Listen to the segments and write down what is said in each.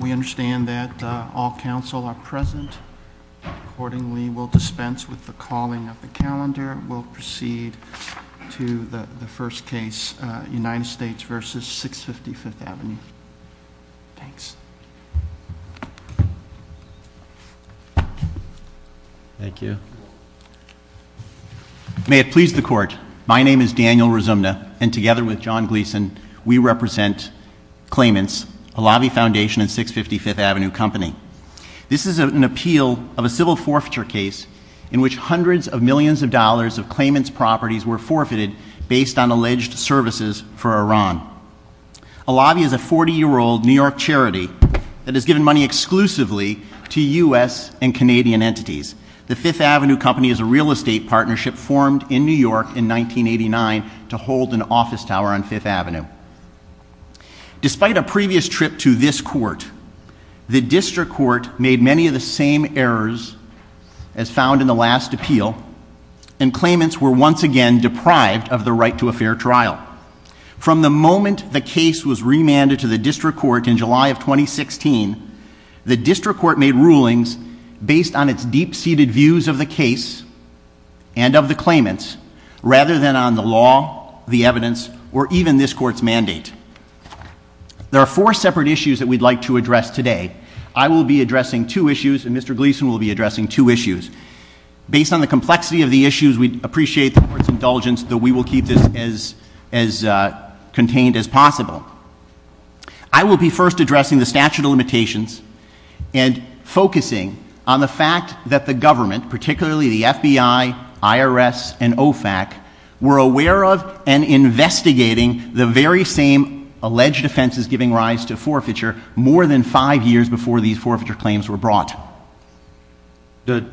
We understand that all council are present, accordingly we will dispense with the calling of the calendar. We'll proceed to the first case, United States versus 650 Fifth Avenue. Thanks. Thank you. May it please the court, my name is Daniel Razumna, and together with John Gleeson, we represent claimants, Alavi Foundation and 650 Fifth Avenue Company. This is an appeal of a civil forfeiture case in which hundreds of millions of dollars of claimants' properties were forfeited based on alleged services for Iran. Alavi is a 40-year-old New York charity that has given money exclusively to U.S. and Canadian entities. The Fifth Avenue Company is a real estate partnership formed in New York in 1989 to hold an office tower on Fifth Avenue. Despite a previous trip to this court, the district court made many of the same errors as found in the last appeal, and claimants were once again deprived of the right to a fair trial. From the moment the case was remanded to the district court in July of 2016, the district court made rulings based on its deep-seated views of the case and of the claimants, rather than on the law, the evidence, or even this court's mandate. There are four separate issues that we'd like to address today. I will be addressing two issues, and Mr. Gleeson will be addressing two issues. Based on the complexity of the issues, we'd appreciate the court's indulgence that we will keep this as contained as possible. I will be first addressing the statute of limitations and focusing on the fact that the government, particularly the FBI, IRS, and OFAC, were aware of and investigating the very same alleged offenses giving rise to forfeiture more than five years before these forfeiture claims were brought. But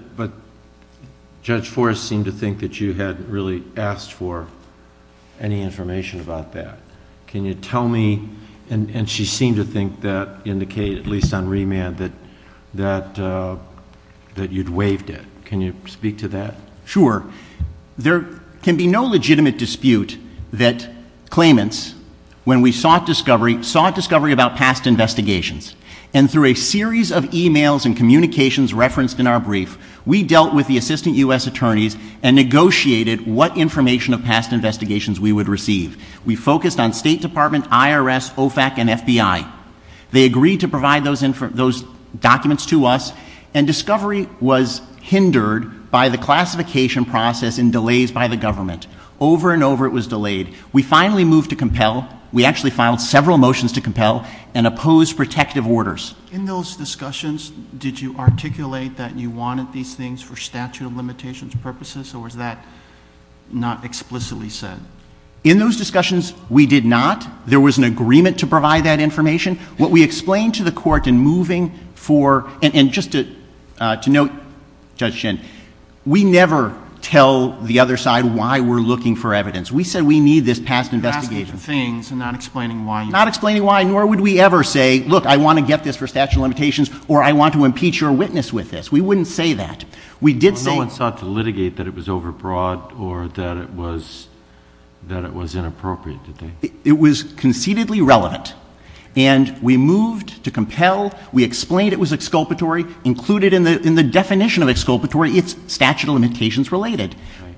Judge Forrest seemed to think that you hadn't really asked for any information about that. Can you tell me, and she seemed to think that in the case, at least on remand, that you'd waived it. Can you speak to that? Sure. There can be no legitimate dispute that claimants, when we sought discovery, and through a series of emails and communications referenced in our brief, we dealt with the assistant U.S. attorneys and negotiated what information of past investigations we would receive. We focused on State Department, IRS, OFAC, and FBI. They agreed to provide those documents to us, and discovery was hindered by the classification process and delays by the government. Over and over it was delayed. We finally moved to compel. We actually filed several motions to compel and opposed protective orders. In those discussions, did you articulate that you wanted these things for statute of limitations purposes, or was that not explicitly said? In those discussions, we did not. There was an agreement to provide that information. What we explained to the court in moving for, and just to note, Judge Shinn, we never tell the other side why we're looking for evidence. We said we need this past investigation. You're asking for things and not explaining why. Not explaining why, nor would we ever say, look, I want to get this for statute of limitations, or I want to impeach your witness with this. We wouldn't say that. No one sought to litigate that it was overbroad or that it was inappropriate, did they? It was conceivably relevant, and we moved to compel. We explained it was exculpatory. Included in the definition of exculpatory, it's statute of limitations related.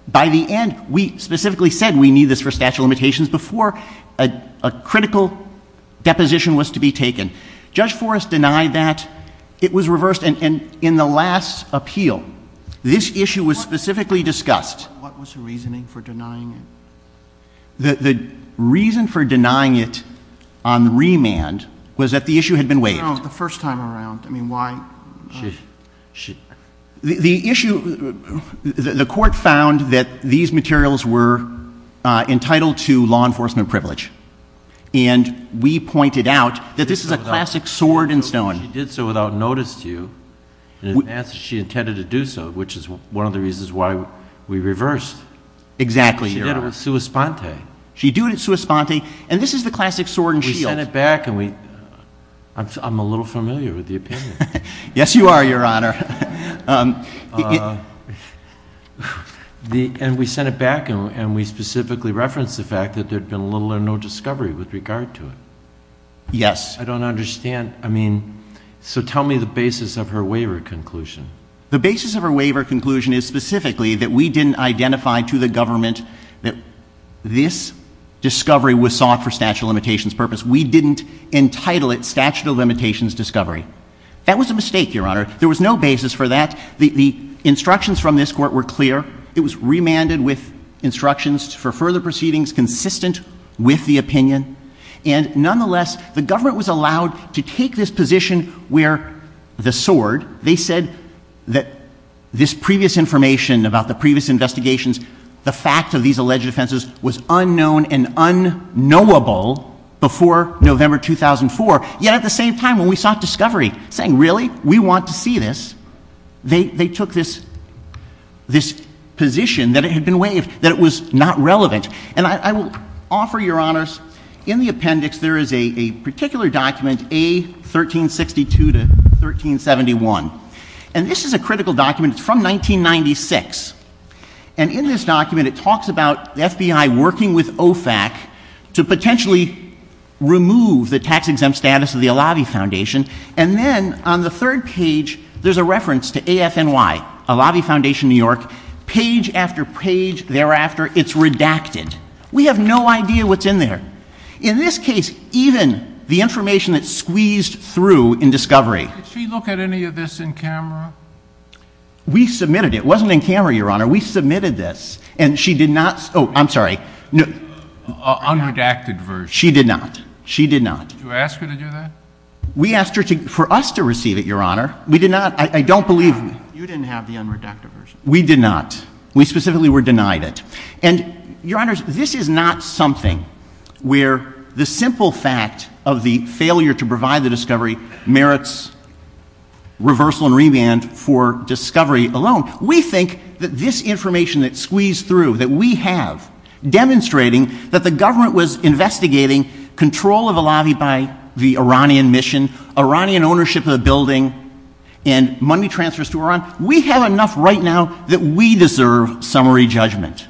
By the end, we specifically said we need this for statute of limitations before a critical deposition was to be taken. Judge Forrest denied that. It was reversed. And in the last appeal, this issue was specifically discussed. What was the reasoning for denying it? The reason for denying it on remand was that the issue had been weighted. No, the first time around. I mean, why? The issue, the court found that these materials were entitled to law enforcement privilege. And we pointed out that this is a classic sword and stone. She did so without notice to you, and in essence, she intended to do so, which is one of the reasons why we reversed. Exactly. She did it with sua sponte. She did it sua sponte, and this is the classic sword and stone. We sent it back, and I'm a little familiar with the opinion. Yes, you are, Your Honor. And we sent it back, and we specifically referenced the fact that there had been little or no discovery with regard to it. Yes. I don't understand. I mean, so tell me the basis of her waiver conclusion. The basis of her waiver conclusion is specifically that we didn't identify to the government that this discovery was sought for statute of limitations purpose. We didn't entitle it statute of limitations discovery. That was a mistake, Your Honor. There was no basis for that. The instructions from this court were clear. It was remanded with instructions for further proceedings consistent with the opinion. And nonetheless, the government was allowed to take this position where the sword, they said that this previous information about the previous investigations, the facts of these alleged offenses was unknown and unknowable before November 2004. Yet at the same time, when we sought discovery, saying, really, we want to see this, they took this position that it had been waived, that it was not relevant. And I will offer, Your Honors, in the appendix, there is a particular document, A1362 to 1371. And this is a critical document. It's from 1996. And in this document, it talks about the FBI working with OFAC to potentially remove the tax-exempt status of the Alavi Foundation. And then on the third page, there's a reference to ASNY, Alavi Foundation New York. Page after page thereafter, it's redacted. We have no idea what's in there. In this case, even the information that's squeezed through in discovery. Did she look at any of this in camera? We submitted it. It wasn't in camera, Your Honor. We submitted this. And she did not. Oh, I'm sorry. Unredacted version. She did not. She did not. Did you ask her to do that? We asked her for us to receive it, Your Honor. We did not. I don't believe you. You didn't have the unredacted version. We did not. We specifically were denied it. And, Your Honors, this is not something where the simple fact of the failure to provide the discovery merits reversal and revamp for discovery alone. We think that this information that's squeezed through, that we have, demonstrating that the government was investigating control of Alavi by the Iranian mission, Iranian ownership of the building, and money transfers to Iran. We have enough right now that we deserve summary judgment.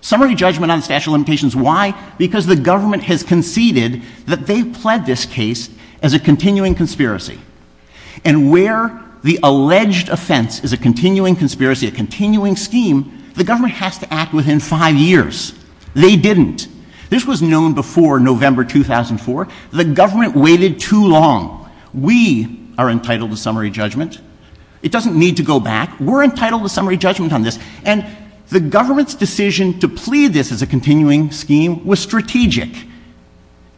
Summary judgment on statute of limitations. Why? Because the government has conceded that they've pled this case as a continuing conspiracy. And where the alleged offense is a continuing conspiracy, a continuing scheme, the government has to act within five years. They didn't. This was known before November 2004. The government waited too long. We are entitled to summary judgment. It doesn't need to go back. We're entitled to summary judgment on this. And the government's decision to plead this as a continuing scheme was strategic,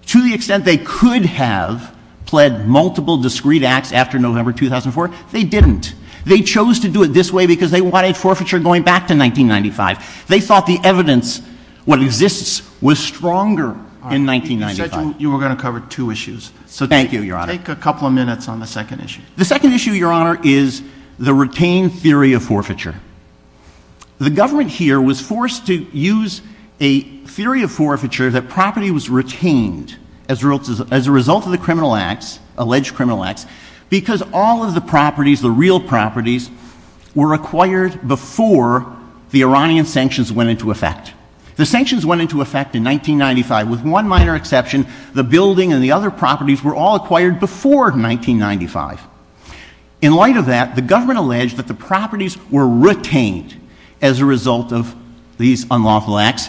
to the extent they could have pled multiple discrete acts after November 2004. They didn't. They chose to do it this way because they wanted forfeiture going back to 1995. They thought the evidence, what exists, was stronger in 1995. You said you were going to cover two issues. So thank you, Your Honor. Take a couple of minutes on the second issue. The second issue, Your Honor, is the retained theory of forfeiture. The government here was forced to use a theory of forfeiture that property was retained as a result of the criminal acts, alleged criminal acts, because all of the properties, the real properties, were acquired before the Iranian sanctions went into effect. The sanctions went into effect in 1995 with one minor exception. The building and the other properties were all acquired before 1995. In light of that, the government alleged that the properties were retained as a result of these unlawful acts,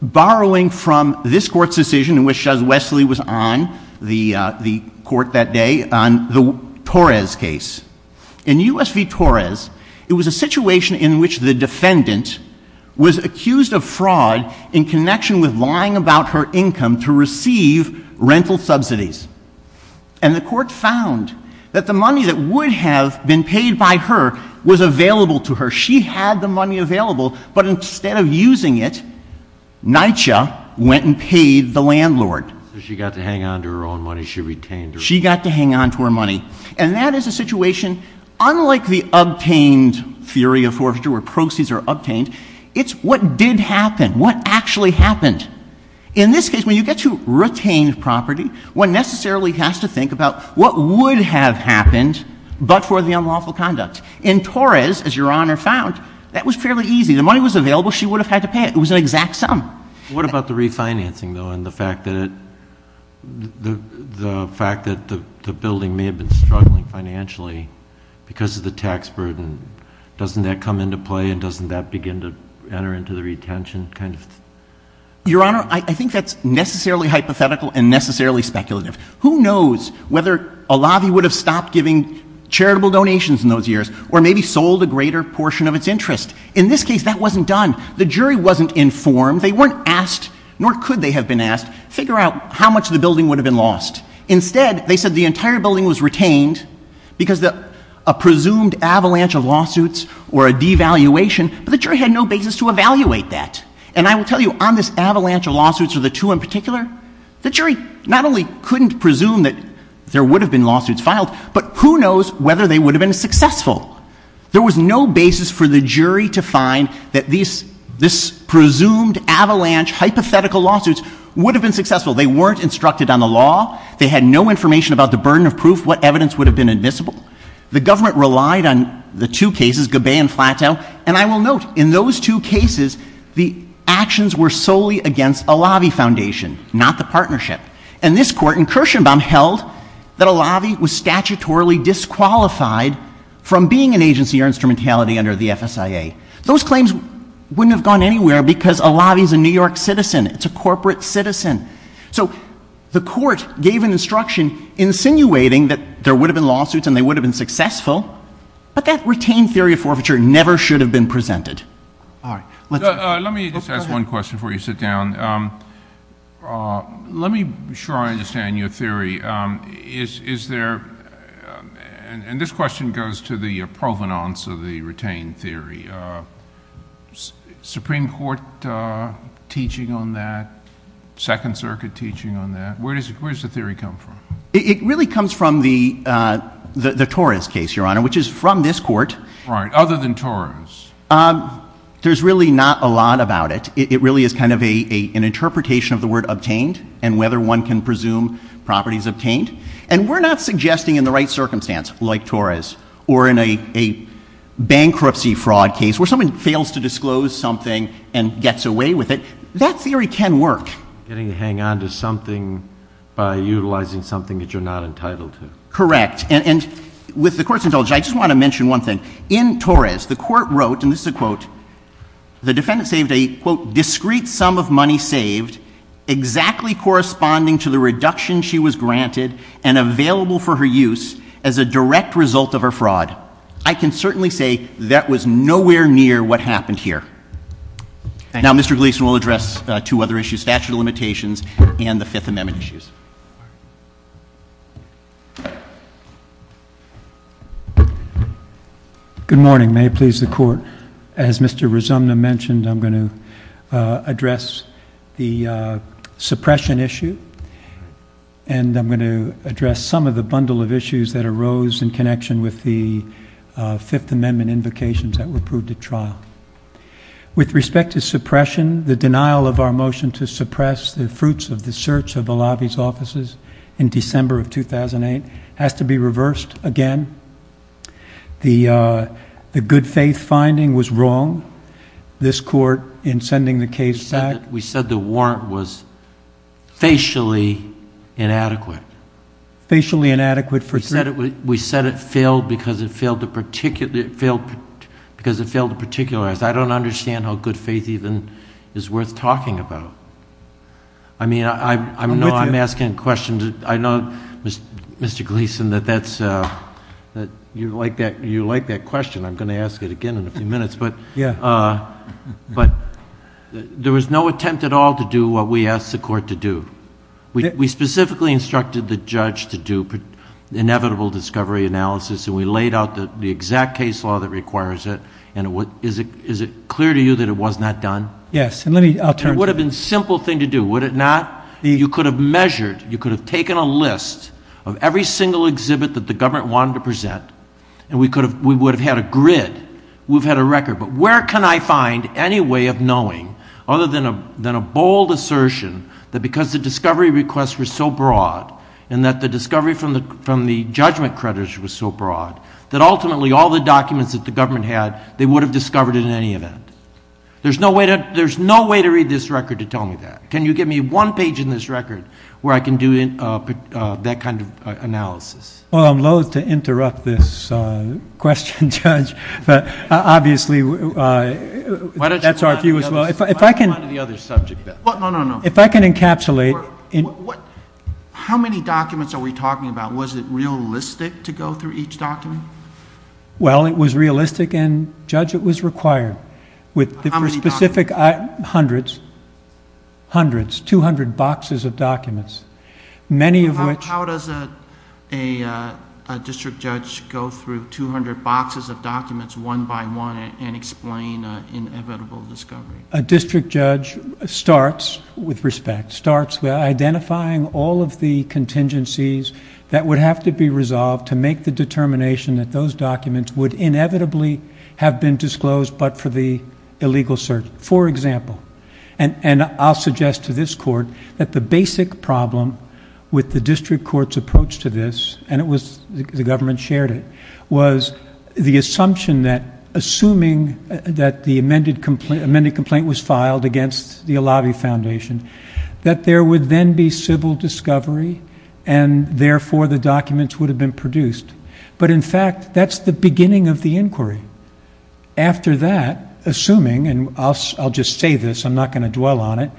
borrowing from this court's decision, which, as Wesley was on the court that day, on the Torres case. In U.S. v. Torres, it was a situation in which the defendant was accused of fraud in connection with lying about her income to receive rental subsidies. And the court found that the money that would have been paid by her was available to her. She had the money available, but instead of using it, NYCHA went and paid the landlord. So she got to hang on to her own money. She retained her own money. She got to hang on to her money. And that is a situation, unlike the obtained theory of forfeiture, where proceeds are obtained, it's what did happen, what actually happened. In this case, when you get to retained property, one necessarily has to think about what would have happened but for the unlawful conduct. In Torres, as Your Honor found, that was fairly easy. The money was available. She would have had to pay it. It was an exact sum. What about the refinancing, though, and the fact that the building may have been struggling financially because of the tax burden? Doesn't that come into play and doesn't that begin to enter into the retention kind of? Your Honor, I think that's necessarily hypothetical and necessarily speculative. Who knows whether a lobby would have stopped giving charitable donations in those years or maybe sold a greater portion of its interest. In this case, that wasn't done. The jury wasn't informed. They weren't asked, nor could they have been asked, figure out how much of the building would have been lost. Instead, they said the entire building was retained because of a presumed avalanche of lawsuits or a devaluation, but the jury had no basis to evaluate that. And I will tell you, on this avalanche of lawsuits or the two in particular, the jury not only couldn't presume that there would have been lawsuits filed, but who knows whether they would have been successful. There was no basis for the jury to find that this presumed avalanche, hypothetical lawsuits, would have been successful. They weren't instructed on the law. They had no information about the burden of proof, what evidence would have been admissible. The government relied on the two cases, Gabay and Plateau, and I will note, in those two cases, the actions were solely against a lobby foundation, not the partnership. And this court in Kirshenbaum held that a lobby was statutorily disqualified from being an agency or instrumentality under the FSIA. Those claims wouldn't have gone anywhere because a lobby is a New York citizen. It's a corporate citizen. So the court gave an instruction insinuating that there would have been lawsuits and they would have been successful, but that retained theory of forfeiture never should have been presented. Let me just ask one question before you sit down. Let me try to understand your theory. Is there, and this question goes to the provenance of the retained theory. Supreme Court teaching on that, Second Circuit teaching on that. Where does the theory come from? It really comes from the Torres case, Your Honor, which is from this court. Right, other than Torres. There's really not a lot about it. It really is kind of an interpretation of the word obtained and whether one can presume property is obtained. And we're not suggesting in the right circumstance, like Torres, or in a bankruptcy fraud case where someone fails to disclose something and gets away with it, that theory can work. Getting to hang on to something by utilizing something that you're not entitled to. Correct. And with the court's indulgence, I just want to mention one thing. In Torres, the court wrote, and this is a quote, the defendant saved a, quote, discrete sum of money saved exactly corresponding to the reduction she was granted and available for her use as a direct result of her fraud. I can certainly say that was nowhere near what happened here. Now, Mr. Gleason will address two other issues, statute of limitations and the Fifth Amendment issues. Good morning. May it please the Court, as Mr. Rizomno mentioned, I'm going to address the suppression issue and I'm going to address some of the bundle of issues that arose in connection with the Fifth Amendment invocations that were approved at trial. With respect to suppression, the denial of our motion to suppress the fruits of the search of Alavi's offices in December of 2008 has to be reversed again. The good faith finding was wrong. This court, in sending the case back We said the warrant was facially inadequate. Facially inadequate for because it failed to particularize. I don't understand how good faith even is worth talking about. I mean, I know I'm asking questions. I know, Mr. Gleason, that you like that question. I'm going to ask it again in a few minutes. But there was no attempt at all to do what we asked the court to do. We specifically instructed the judge to do inevitable discovery analysis and we laid out the exact case law that requires it. Is it clear to you that it was not done? Yes. It would have been a simple thing to do, would it not? You could have measured. You could have taken a list of every single exhibit that the government wanted to present and we would have had a grid. We would have had a record. But where can I find any way of knowing, other than a bold assertion, that because the discovery requests were so broad and that the discovery from the judgment creditors was so broad, that ultimately all the documents that the government had, they would have discovered it in any event? There's no way to read this record to tell me that. Can you give me one page in this record where I can do that kind of analysis? Well, I'm loathe to interrupt this question, Judge, but obviously that's our view as well. If I can encapsulate. How many documents are we talking about? Was it realistic to go through each document? Well, it was realistic and, Judge, it was required. How many documents? Hundreds. Hundreds. 200 boxes of documents. How does a district judge go through 200 boxes of documents one by one and explain an inevitable discovery? A district judge starts with respect, starts identifying all of the contingencies that would have to be resolved to make the determination that those documents would inevitably have been disclosed but for the legal search, for example. And I'll suggest to this court that the basic problem with the district court's approach to this, and the government shared it, was the assumption that assuming that the amended complaint was filed against the Alavi Foundation, that there would then be civil discovery and, therefore, the documents would have been produced. But, in fact, that's the beginning of the inquiry. After that, assuming, and I'll just say this, I'm not going to dwell on it,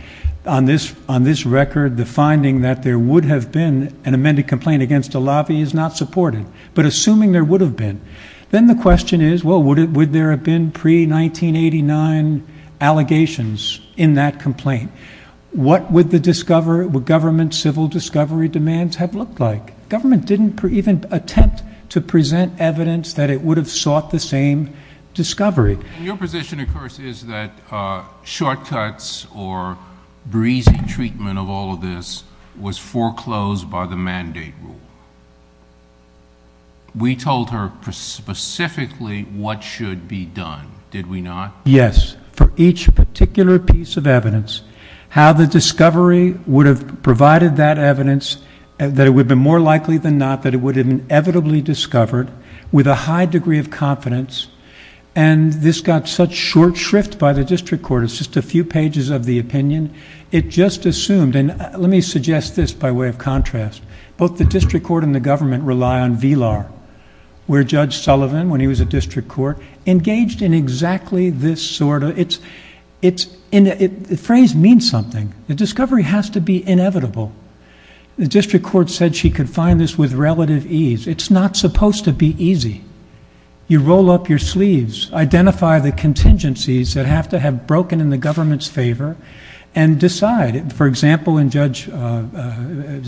on this record the finding that there would have been an amended complaint against Alavi is not supported. But assuming there would have been, then the question is, well, would there have been pre-1989 allegations in that complaint? What would government civil discovery demands have looked like? Government didn't even attempt to present evidence that it would have sought the same discovery. Your position, of course, is that shortcuts or breezy treatment of all of this was foreclosed by the mandate rule. We told her specifically what should be done, did we not? Yes. For each particular piece of evidence, how the discovery would have provided that evidence, that it would have been more likely than not that it would have been inevitably discovered, with a high degree of confidence, and this got such short shrift by the district court, it's just a few pages of the opinion, it just assumed, and let me suggest this by way of contrast, both the district court and the government rely on VLAR, where Judge Sullivan, when he was a district court, engaged in exactly this sort of, the phrase means something, the discovery has to be inevitable. The district court said she could find this with relative ease. It's not supposed to be easy. You roll up your sleeves, identify the contingencies that have to have broken in the government's favor, and decide, for example, in Judge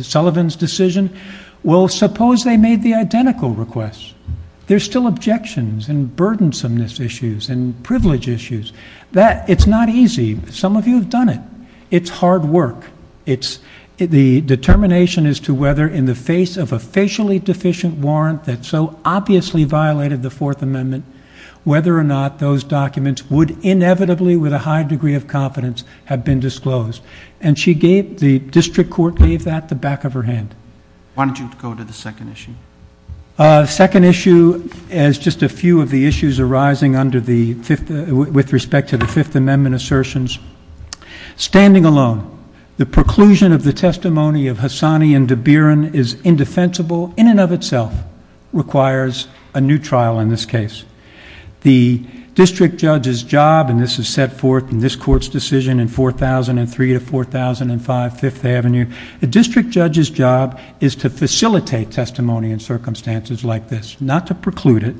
Sullivan's decision, well, suppose they made the identical request. There's still objections and burdensomeness issues and privilege issues. That, it's not easy. Some of you have done it. It's hard work. The determination as to whether in the face of a facially deficient warrant that so obviously violated the Fourth Amendment, whether or not those documents would inevitably, with a high degree of confidence, have been disclosed. And she gave, the district court gave that the back of her hand. Why don't you go to the second issue? Second issue is just a few of the issues arising under the, with respect to the Fifth Amendment assertions. Standing alone, the preclusion of the testimony of Hassani and DeBierin is indefensible in and of itself, requires a new trial in this case. The district judge's job, and this is set forth in this court's decision in 4003 to 4005 Fifth Avenue, the district judge's job is to facilitate testimony in circumstances like this, not to preclude it.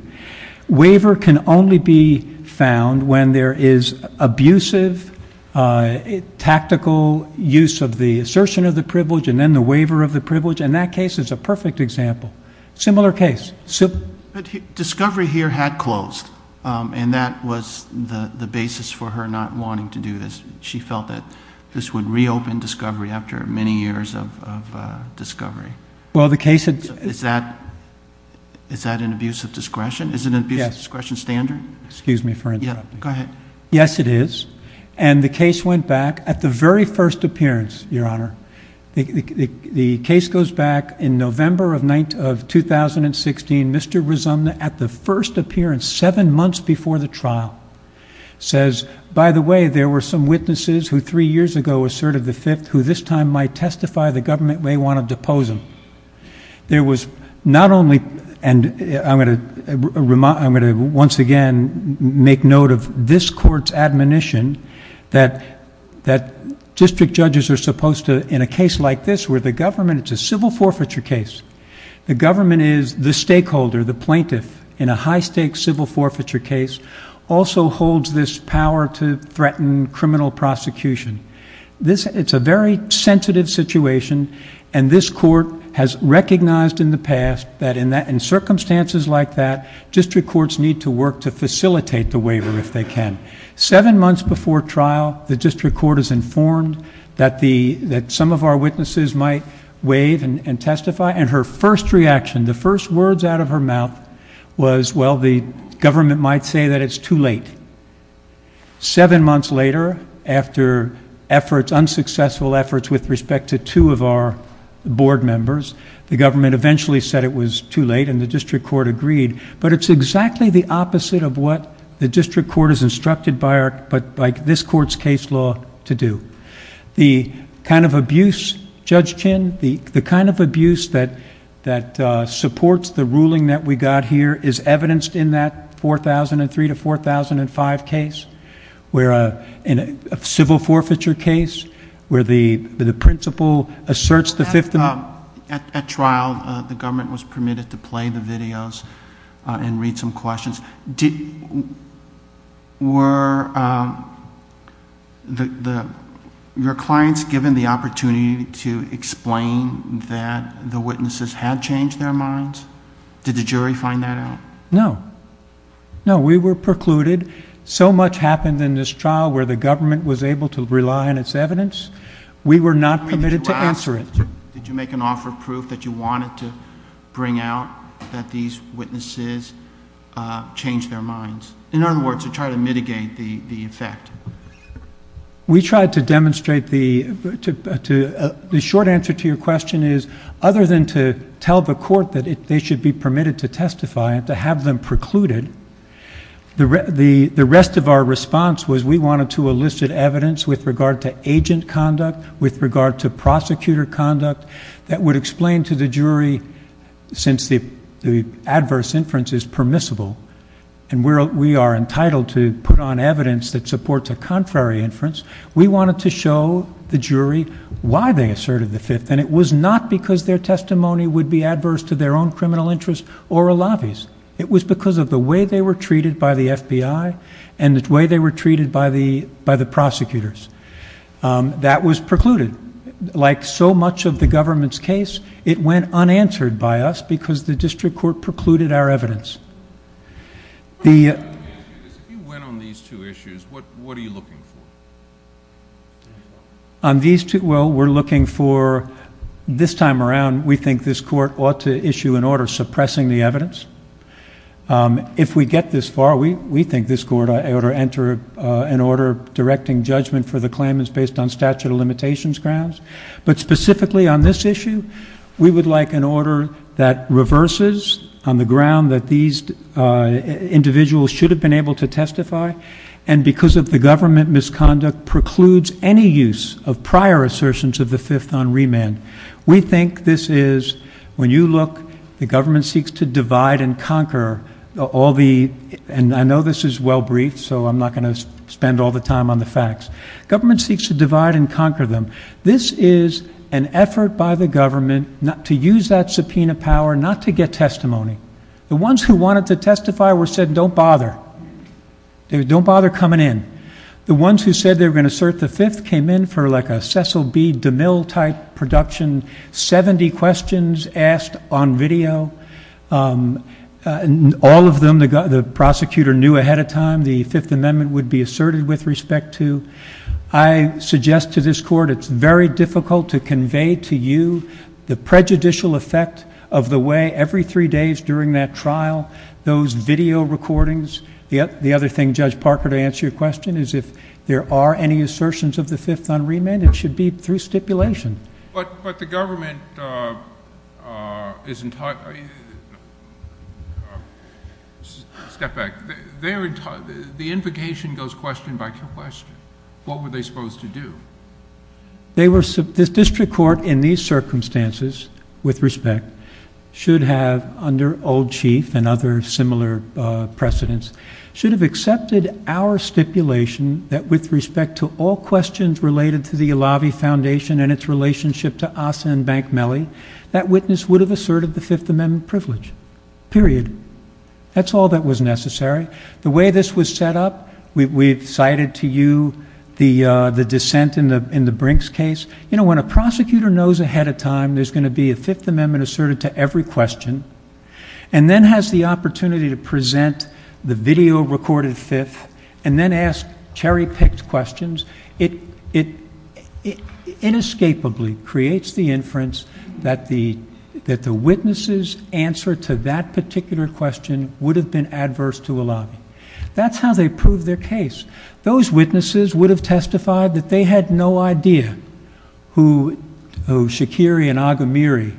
Waiver can only be found when there is abusive, tactical use of the assertion of the privilege and then the waiver of the privilege, and that case is a perfect example. Similar case. Discovery here had closed, and that was the basis for her not wanting to do this. She felt that this would reopen Discovery after many years of Discovery. Is that an abuse of discretion? Is it an abuse of discretion standard? Yes. Excuse me for interruption. Yeah, go ahead. Yes, it is, and the case went back at the very first appearance, Your Honor. The case goes back in November of 2016. Mr. Rizomna, at the first appearance, seven months before the trial, says, by the way, there were some witnesses who three years ago asserted the Fifth, who this time might testify the government may want to depose them. There was not only, and I'm going to once again make note of this court's admonition that district judges are supposed to, in a case like this where the government, it's a civil forfeiture case, the government is the stakeholder, the plaintiff, in a high-stakes civil forfeiture case, also holds this power to threaten criminal prosecution. It's a very sensitive situation, and this court has recognized in the past that in circumstances like that, district courts need to work to facilitate the waiver if they can. Seven months before trial, the district court is informed that some of our witnesses might waive and testify, and her first reaction, the first words out of her mouth was, well, the government might say that it's too late. Seven months later, after unsuccessful efforts with respect to two of our board members, the government eventually said it was too late, and the district court agreed, but it's exactly the opposite of what the district court is instructed by this court's case law to do. The kind of abuse, Judge Kinn, the kind of abuse that supports the ruling that we got here is evidenced in that 4003 to 4005 case, where in a civil forfeiture case, where the principal asserts the victim. At trial, the government was permitted to play the videos and read some questions. Were your clients given the opportunity to explain that the witnesses had changed their minds? Did the jury find that out? No. No, we were precluded. So much happened in this trial where the government was able to rely on its evidence. We were not permitted to answer it. Did you make an offer of proof that you wanted to bring out that these witnesses changed their minds? In other words, to try to mitigate the effect. We tried to demonstrate the short answer to your question is, other than to tell the court that they should be permitted to testify and to have them precluded, the rest of our response was we wanted to elicit evidence with regard to agent conduct, with regard to prosecutor conduct, that would explain to the jury, since the adverse inference is permissible, and we are entitled to put on evidence that supports a contrary inference, we wanted to show the jury why they asserted the fifth. And it was not because their testimony would be adverse to their own criminal interest or a lobbyist. It was because of the way they were treated by the FBI and the way they were treated by the prosecutors. That was precluded. Like so much of the government's case, it went unanswered by us because the district court precluded our evidence. If you win on these two issues, what are you looking for? On these two, well, we're looking for, this time around, we think this court ought to issue an order suppressing the evidence. If we get this far, we think this court ought to enter an order directing judgment for the claimants based on statute of limitations grounds, but specifically on this issue, we would like an order that reverses on the ground that these individuals should have been able to testify, and because of the government misconduct precludes any use of prior assertions of the fifth on remand. We think this is, when you look, the government seeks to divide and conquer all the, and I know this is well briefed, so I'm not going to spend all the time on the facts. Government seeks to divide and conquer them. This is an effort by the government to use that subpoena power not to get testimony. The ones who wanted to testify were said, don't bother. Don't bother coming in. The ones who said they were going to assert the fifth came in for like a Cecil B. DeMille-type production, 70 questions asked on video, all of them the prosecutor knew ahead of time the Fifth Amendment would be asserted with respect to, and I suggest to this Court it's very difficult to convey to you the prejudicial effect of the way every three days during that trial, those video recordings. The other thing, Judge Parker, to answer your question is if there are any assertions of the fifth on remand, it should be through stipulation. But the government is entirely, step back, the implication goes question by question. What were they supposed to do? The district court in these circumstances, with respect, should have under old chief and other similar precedents, should have accepted our stipulation that with respect to all questions related to the Alavi Foundation and its relationship to Asa and Bank Mellie, that witness would have asserted the Fifth Amendment privilege, period. That's all that was necessary. The way this was set up, we've cited to you the dissent in the Brinks case. You know, when a prosecutor knows ahead of time there's going to be a Fifth Amendment asserted to every question and then has the opportunity to present the video recorded Fifth and then ask cherry-picked questions, it inescapably creates the inference that the witness's answer to that particular question would have been adverse to Alavi. That's how they proved their case. Those witnesses would have testified that they had no idea who Shakiri and Agamiri,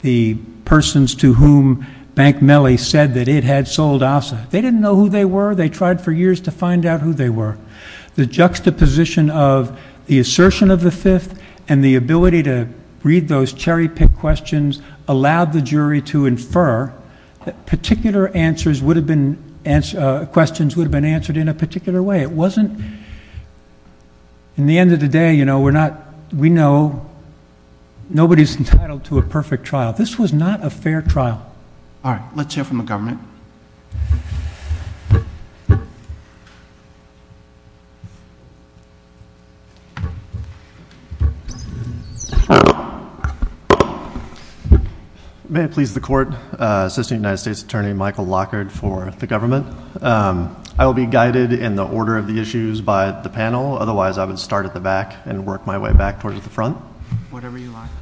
the persons to whom Bank Mellie said that it had sold Asa, they didn't know who they were. They tried for years to find out who they were. The juxtaposition of the assertion of the Fifth and the ability to read those cherry-picked questions allowed the jury to infer that particular questions would have been answered in a particular way. It wasn't. In the end of the day, you know, we know nobody's entitled to a perfect trial. This was not a fair trial. All right. Let's hear from the government. May it please the Court, Assistant United States Attorney Michael Lockhart for the government. I will be guided in the order of the issues by the panel. Otherwise, I would start at the back and work my way back towards the front.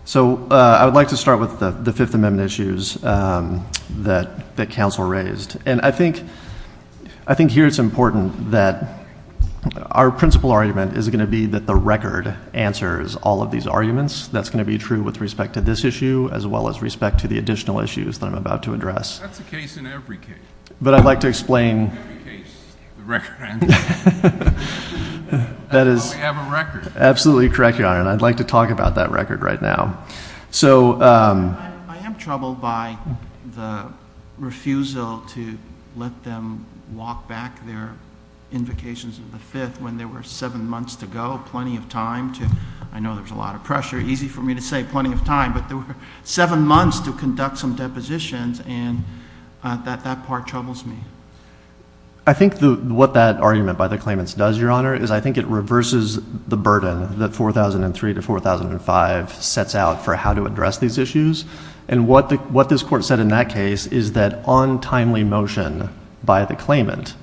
So I would like to start with the Fifth Amendment issues that counsel raised. And I think here it's important that our principal argument is going to be that the record answers all of these arguments. That's going to be true with respect to this issue as well as respect to the additional issues that I'm about to address. That's the case in every case. But I'd like to explain. In every case, the record answers. That's why we have a record. Absolutely correct, Your Honor. And I'd like to talk about that record right now. I am troubled by the refusal to let them walk back their invocations of the Fifth when there were seven months to go, plenty of time. I know there's a lot of pressure. Easy for me to say plenty of time. But there were seven months to conduct some depositions, and that part troubles me. I think what that argument by the claimants does, Your Honor, is I think it reverses the burden that 4003 to 4005 sets out for how to address these issues. And what this Court said in that case is that untimely motion by the claimant.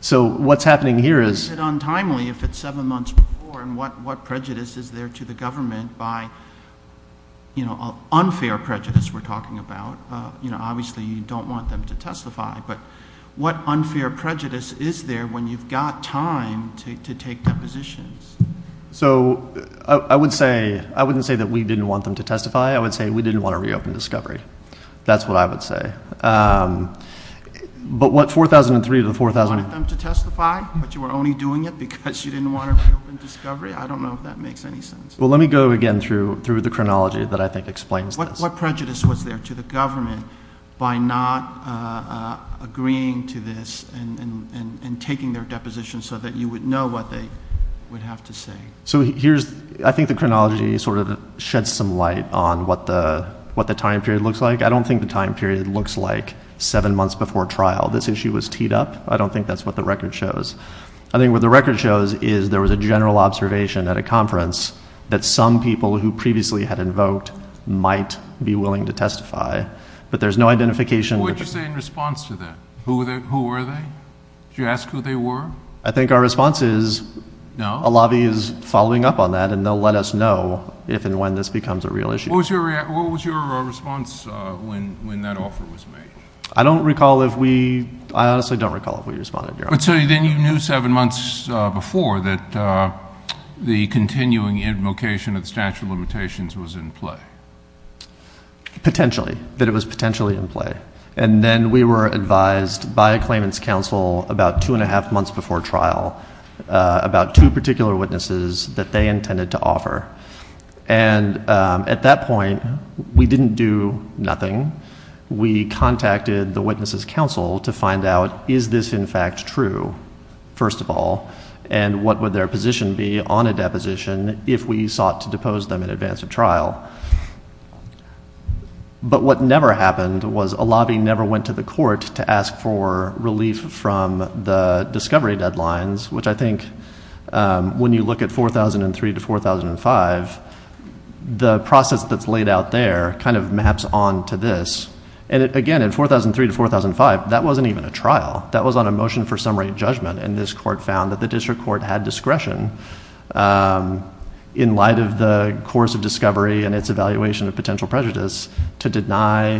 So what's happening here is untimely if it's seven months before and what prejudice is there to the government by unfair prejudice we're talking about. Obviously, you don't want them to testify. But what unfair prejudice is there when you've got time to take depositions? So I wouldn't say that we didn't want them to testify. I would say we didn't want to reopen discovery. That's what I would say. But what 4003 to 4005? You wanted them to testify, but you were only doing it because you didn't want to reopen discovery? I don't know if that makes any sense. Well, let me go again through the chronology that I think explains this. What prejudice was there to the government by not agreeing to this and taking their depositions so that you would know what they would have to say? So I think the chronology sort of sheds some light on what the time period looks like. I don't think the time period looks like seven months before trial. This issue was teed up. I don't think that's what the record shows. I think what the record shows is there was a general observation at a conference that some people who previously had invoked might be willing to testify. But there's no identification. What did you say in response to that? Who were they? Did you ask who they were? I think our response is a lobby is following up on that and they'll let us know if and when this becomes a real issue. What was your response when that offer was made? I don't recall if we – I honestly don't recall if we responded. So then you knew seven months before that the continuing invocation of statute of limitations was in play? Potentially, that it was potentially in play. And then we were advised by a claimant's counsel about two and a half months before trial about two particular witnesses that they intended to offer. And at that point, we didn't do nothing. We contacted the witness's counsel to find out is this in fact true, first of all, and what would their position be on a deposition if we sought to depose them in advance of trial. But what never happened was a lobby never went to the court to ask for relief from the discovery deadlines, which I think when you look at 4003 to 4005, the process that's laid out there kind of maps onto this. And again, in 4003 to 4005, that wasn't even a trial. That was on a motion for summary judgment. And this court found that the district court had discretion in light of the course of discovery and its evaluation of potential prejudice to deny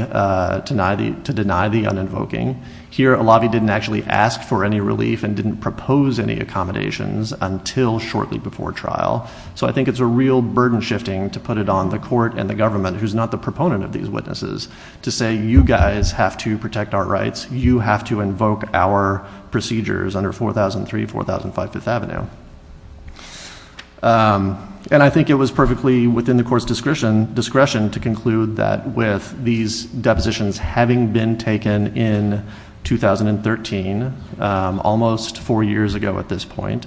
the un-invoking. Here, a lobby didn't actually ask for any relief and didn't propose any accommodations until shortly before trial. So I think it's a real burden shifting to put it on the court and the government, who's not the proponent of these witnesses, to say you guys have to protect our rights, you have to invoke our procedures under 4003, 4005 Fifth Avenue. And I think it was perfectly within the court's discretion to conclude that with these depositions having been taken in 2013, almost four years ago at this point,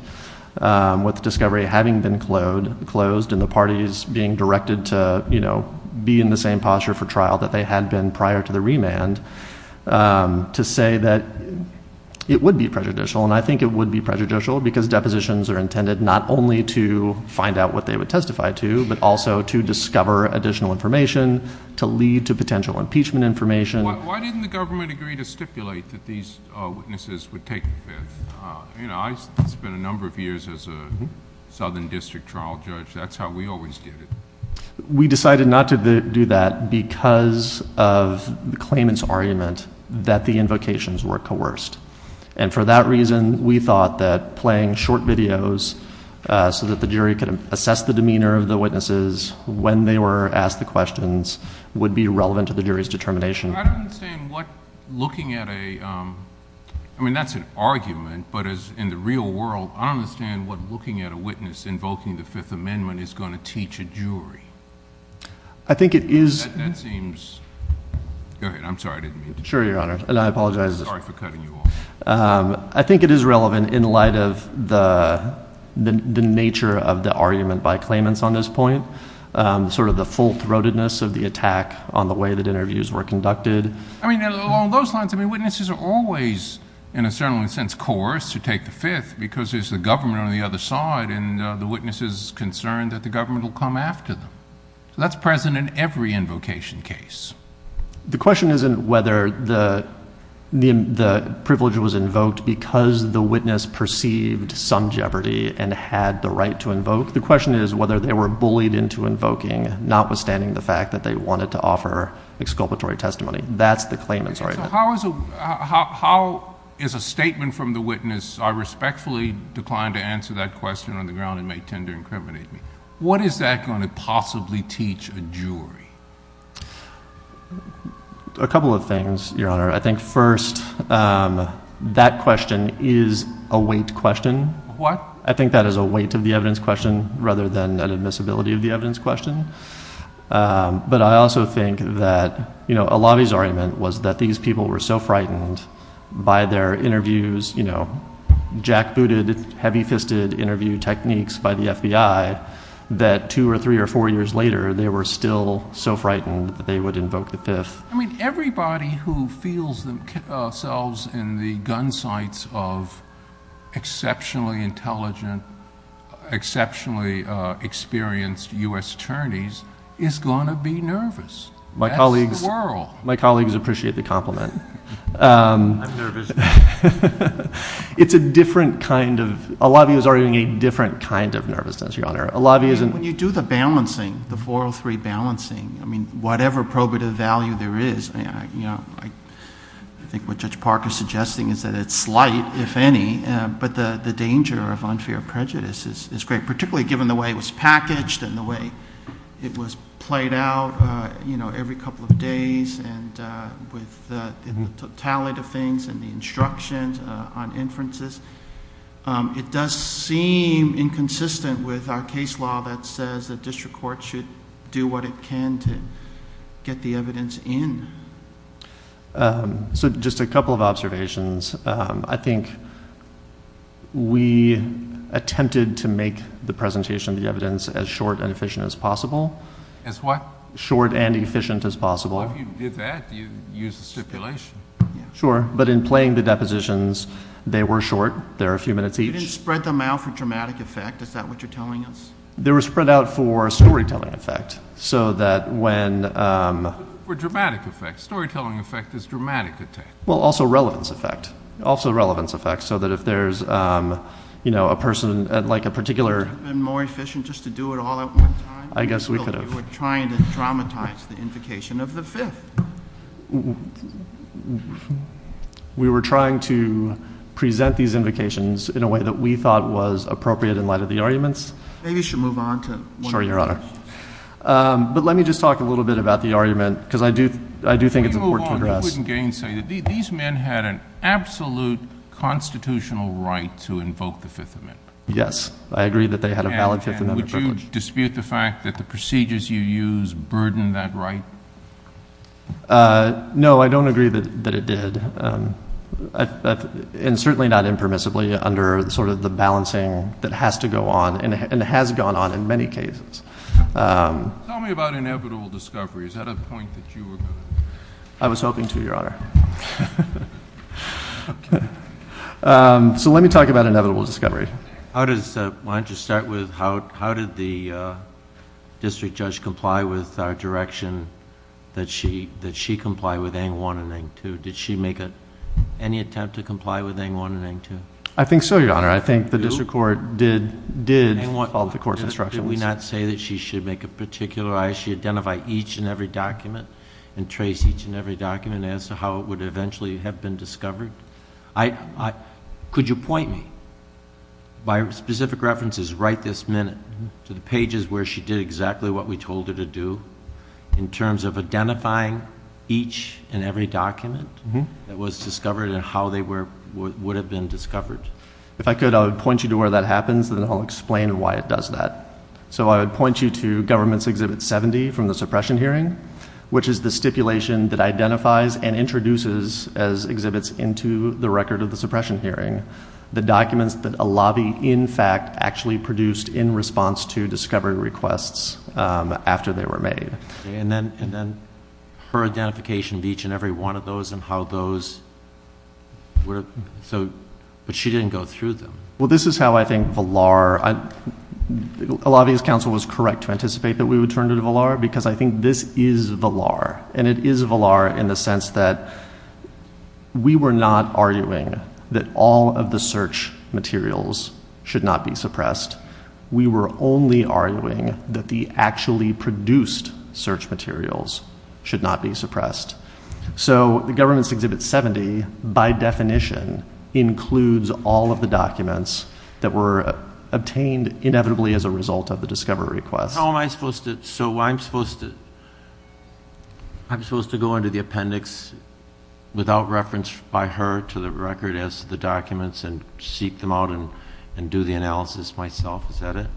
with discovery having been closed and the parties being directed to be in the same posture for trial that they had been prior to the remand, to say that it would be prejudicial. And I think it would be prejudicial because depositions are intended not only to find out what they would testify to, but also to discover additional information, to lead to potential impeachment information. Why didn't the government agree to stipulate that these witnesses would take offense? You know, I spent a number of years as a southern district trial judge. That's how we always did it. We decided not to do that because of the claimant's argument that the invocations were coerced. And for that reason, we thought that playing short videos so that the jury could assess the demeanor of the witnesses when they were asked the questions would be relevant to the jury's determination. I don't understand what looking at a, I mean, that's an argument, but in the real world, I don't understand what looking at a witness invoking the Fifth Amendment is going to teach a jury. I think it is. That seems, okay, I'm sorry, I didn't mean to. Sure, Your Honor, and I apologize. Sorry for cutting you off. I think it is relevant in light of the nature of the argument by claimants on this point, sort of the full-throatedness of the attack on the way that interviews were conducted. I mean, along those lines, I mean, witnesses are always, in a certain sense, coerced to take the Fifth because there's the government on the other side, and the witness is concerned that the government will come after them. That's present in every invocation case. The question isn't whether the privilege was invoked because the witness perceived some jeopardy and had the right to invoke. The question is whether they were bullied into invoking, notwithstanding the fact that they wanted to offer exculpatory testimony. That's the claimant's argument. How is a statement from the witness, I respectfully decline to answer that question on the ground and may tend to incriminate me, what is that going to possibly teach a jury? A couple of things, Your Honor. I think first, that question is a weight question. What? I think that is a weight of the evidence question rather than an admissibility of the evidence question. But I also think that, you know, a lot of these arguments was that these people were so frightened by their interviews, you know, jackbooted, heavy-fisted interview techniques by the FBI, that two or three or four years later they were still so frightened that they would invoke the fifth. I mean, everybody who feels themselves in the gun sights of exceptionally intelligent, exceptionally experienced U.S. attorneys is going to be nervous. My colleagues appreciate the compliment. I'm nervous now. It's a different kind of, a lot of these are going to be different kinds of nervousness, Your Honor. When you do the balancing, the 403 balancing, I mean, whatever probative value there is, I think what Judge Parker is suggesting is that it's light, if any, but the danger of unfair prejudice is great, particularly given the way it was packaged and the way it was played out, you know, every couple of days and with the totality of things and the instructions on inferences. It does seem inconsistent with our case law that says the district court should do what it can to get the evidence in. So just a couple of observations. I think we attempted to make the presentation of the evidence as short and efficient as possible. As what? Short and efficient as possible. If you did that, you'd use the stipulation. Sure. But in playing the depositions, they were short. They're a few minutes each. You didn't spread them out for dramatic effect. Is that what you're telling us? They were spread out for storytelling effect, so that when ‑‑ For dramatic effect. Storytelling effect is dramatic effect. Well, also relevance effect. Also relevance effect, so that if there's, you know, a person, like a particular ‑‑ I guess we could have. We're trying to dramatize the invocation of the Fifth. We were trying to present these invocations in a way that we thought was appropriate in light of the arguments. Maybe you should move on to ‑‑ Sorry, Your Honor. But let me just talk a little bit about the argument, because I do think it's important for us. These men had an absolute constitutional right to invoke the Fifth Amendment. Yes. I agree that they had a valid Fifth Amendment. And would you dispute the fact that the procedures you used burdened that right? No, I don't agree that it did. And certainly not impermissibly under sort of the balancing that has to go on, and has gone on in many cases. Tell me about inevitable discovery. Is that a point that you were ‑‑ I was hoping to, Your Honor. So let me talk about inevitable discovery. Why don't you start with how did the district judge comply with our direction that she comply with Ang 1 and Ang 2? Did she make any attempt to comply with Ang 1 and Ang 2? I think so, Your Honor. I think the district court did follow the court's instructions. Did we not say that she should make a particular ‑‑ that she identify each and every document and trace each and every document as to how it would eventually have been discovered? Could you point me by specific references right this minute to the pages where she did exactly what we told her to do in terms of identifying each and every document that was discovered and how they would have been discovered? If I could, I would point you to where that happens, and then I'll explain why it does that. So I would point you to Government's Exhibit 70 from the suppression hearing, which is the stipulation that identifies and introduces as exhibits into the record of the suppression hearing the documents that a lobby in fact actually produced in response to discovery requests after they were made. And then her identification of each and every one of those and how those were ‑‑ but she didn't go through them. Well, this is how I think Valar ‑‑ a lobbyist counsel was correct to anticipate that we would turn to Valar because I think this is Valar, and it is Valar in the sense that we were not arguing that all of the search materials should not be suppressed. We were only arguing that the actually produced search materials should not be suppressed. So Government's Exhibit 70 by definition includes all of the documents that were obtained inevitably as a result of the discovery request. How am I supposed to ‑‑ so I'm supposed to go into the appendix without reference by her to the record as to the documents and seek them out and do the analysis myself, is that it?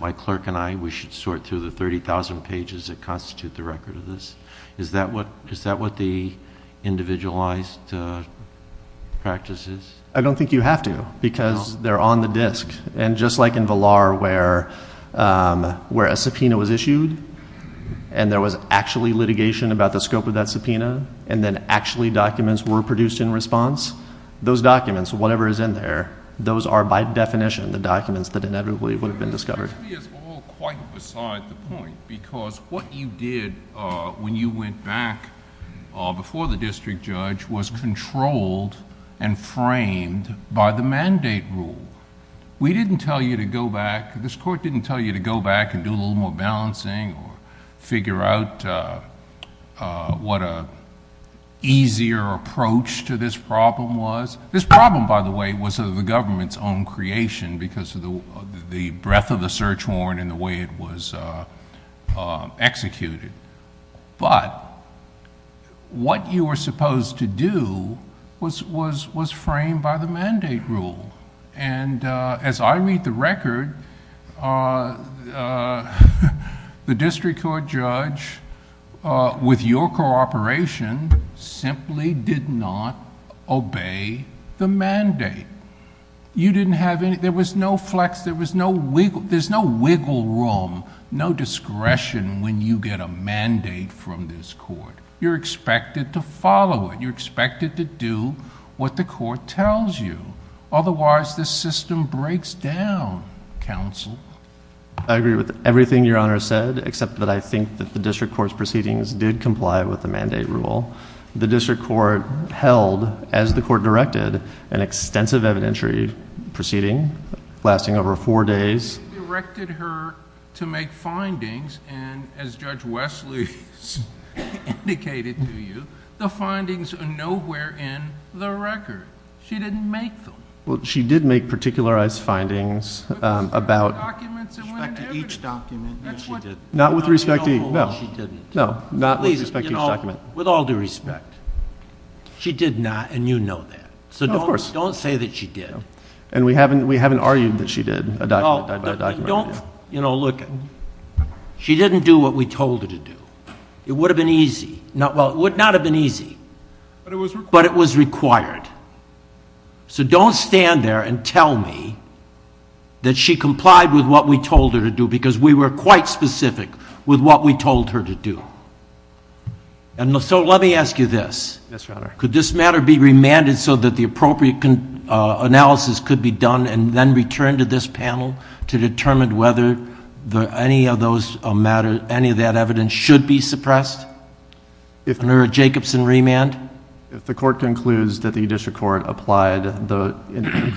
My clerk and I, we should sort through the 30,000 pages that constitute the record of this. Is that what the individualized practice is? I don't think you have to because they're on the disk. And just like in Valar where a subpoena was issued and there was actually litigation about the scope of that subpoena and then actually documents were produced in response, those documents, whatever is in there, those are by definition the documents that inevitably would have been discovered. I think it's all quite beside the point because what you did when you went back before the district judge was controlled and framed by the mandate rule. We didn't tell you to go back, this court didn't tell you to go back and do a little more balancing or figure out what an easier approach to this problem was. This problem, by the way, was the government's own creation because of the breadth of the search warrant and the way it was executed. But what you were supposed to do was framed by the mandate rule. And as I read the record, the district court judge, with your cooperation, simply did not obey the mandate. You didn't have any, there was no flex, there was no wiggle room, no discretion when you get a mandate from this court. You're expected to follow it. You're expected to do what the court tells you. Otherwise, the system breaks down, counsel. I agree with everything Your Honor said, except that I think that the district court's proceedings did comply with the mandate rule. The district court held, as the court directed, an extensive evidentiary proceeding, lasting over four days. You directed her to make findings, and as Judge Wesley indicated to you, the findings are nowhere in the record. She didn't make them. She did make particularized findings about Not with respect to you, no. No, not with respect to you. With all due respect, she did not, and you know that. So don't say that she did. And we haven't argued that she did. Oh, don't, you know, look, she didn't do what we told her to do. It would have been easy. Well, it would not have been easy, but it was required. So don't stand there and tell me that she complied with what we told her to do, because we were quite specific with what we told her to do. And so let me ask you this. Yes, Your Honor. Could this matter be remanded so that the appropriate analysis could be done and then returned to this panel to determine whether any of those matters, any of that evidence should be suppressed under a Jacobson remand? If the court concludes that the district court applied the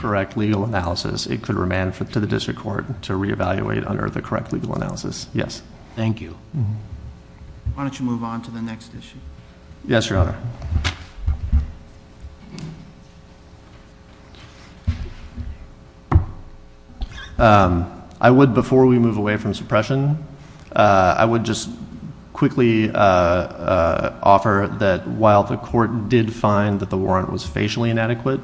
correct legal analysis, it could remand to the district court to reevaluate under the correct legal analysis. Yes. Thank you. Why don't you move on to the next issue? Yes, Your Honor. I would, before we move away from suppression, I would just quickly offer that while the court did find that the warrant was facially inadequate,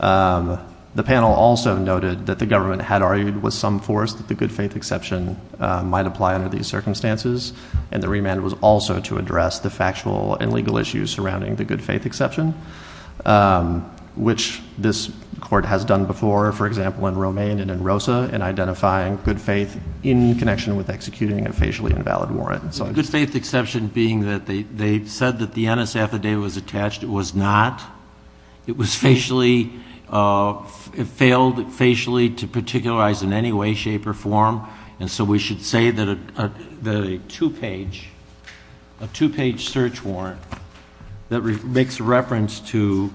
the panel also noted that the government had argued with some force that the good faith exception might apply under these circumstances, and the remand was also to address the factual and legal issues surrounding the good faith exception, which this court has done before, for example, in Romaine and in Rosa, in identifying good faith in connection with executing a facially invalid warrant. The good faith exception being that they said that the NS affidavit was attached. It was not. It was facially, it failed facially to particularize in any way, shape, or form, and so we should say that a two-page search warrant that makes reference to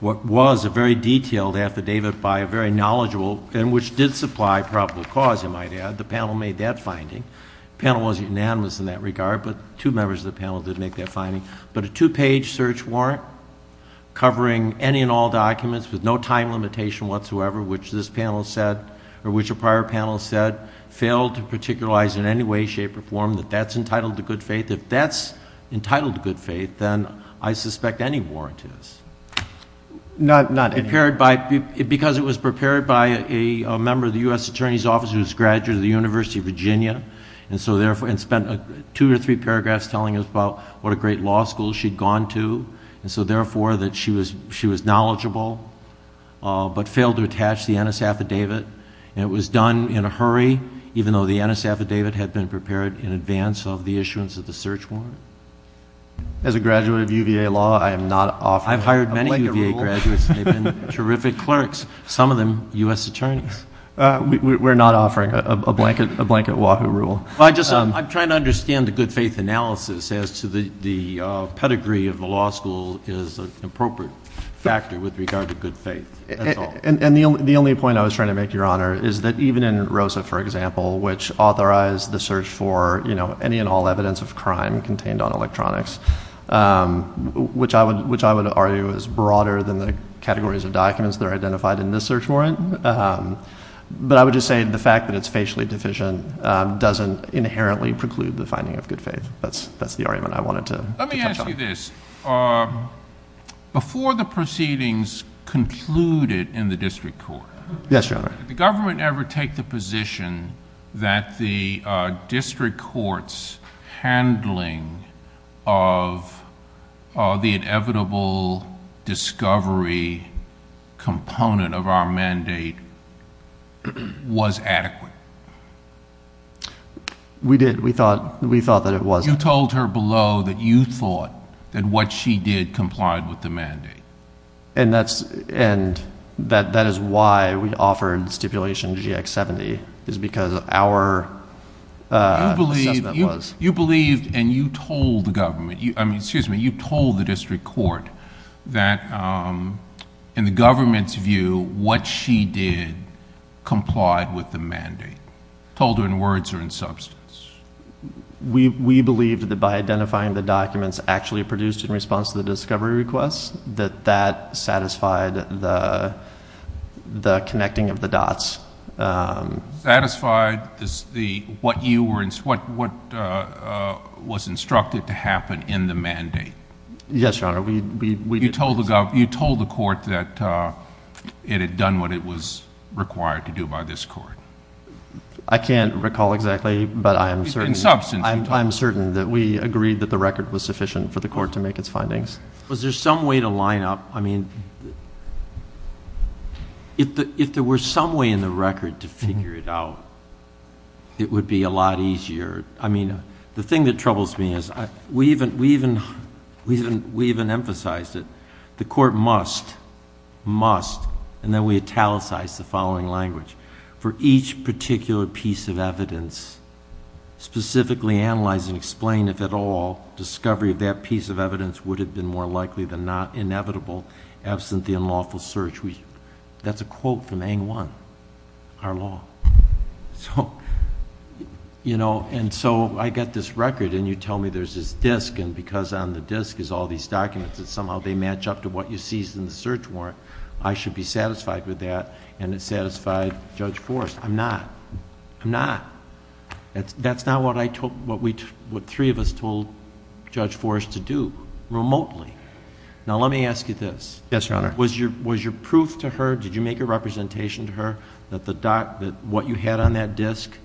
what was a very detailed affidavit by a very knowledgeable, and which did supply probable cause, you might add. The panel made that finding. The panel was unanimous in that regard, but two members of the panel did make that finding. But a two-page search warrant covering any and all documents with no time limitation whatsoever, which this panel said, or which a prior panel said, failed to particularize in any way, shape, or form that that's entitled to good faith. If that's entitled to good faith, then I suspect any warrant is. None. Because it was prepared by a member of the U.S. Attorney's Office who was a graduate of the University of Virginia, and spent two or three paragraphs telling us about what a great law school she'd gone to, and so therefore that she was knowledgeable, but failed to attach the NS affidavit, and it was done in a hurry, even though the NS affidavit had been prepared in advance of the issuance of the search warrant. As a graduate of UVA law, I am not offering a blanket rule. I've hired many UVA graduates, and they've been terrific clerks, some of them U.S. attorneys. We're not offering a blanket law rule. I'm trying to understand the good faith analysis as to the pedigree of the law school as an appropriate factor with regard to good faith. And the only point I was trying to make, Your Honor, is that even in ROSA, for example, which authorized the search for any and all evidence of crime contained on electronics, which I would argue is broader than the categories of documents that are identified in this search warrant, but I would just say the fact that it's facially deficient doesn't inherently preclude the finding of good faith. That's the argument I wanted to make. Let me ask you this. Before the proceedings concluded in the district court, Yes, Your Honor. did the government ever take the position that the district court's handling of the inevitable discovery component of our mandate was adequate? We did. We thought that it was. You told her below that you thought that what she did complied with the mandate. And that is why we offered stipulation GX70, is because our judgment was. You believed and you told the government, excuse me, you told the district court that in the government's view, what she did complied with the mandate. You told her in words or in substance. We believed that by identifying the documents actually produced in response to the discovery request, that that satisfied the connecting of the dots. Satisfied is what was instructed to happen in the mandate. Yes, Your Honor. You told the court that it had done what it was required to do by this court. I can't recall exactly, but I'm certain that we agreed that the record was sufficient for the court to make its findings. Was there some way to line up? I mean, if there were some way in the record to figure it out, it would be a lot easier. I mean, the thing that troubles me is we even emphasized it. The court must, must, and then we italicized the following language. For each particular piece of evidence, specifically analyze and explain, if at all, discovery of that piece of evidence would have been more likely than not, inevitable, absent the unlawful search. That's a quote from Aang 1, our law. So, you know, and so I get this record and you tell me there's this disk, and because on the disk is all these documents that somehow they match up to what you see in the search warrant, I should be satisfied with that and it's satisfied Judge Forrest. I'm not. I'm not. That's not what I told, what we, what three of us told Judge Forrest to do remotely. Now, let me ask you this. Yes, Your Honor. Was your proof to her, did you make a representation to her that the doc, that what you had on that disk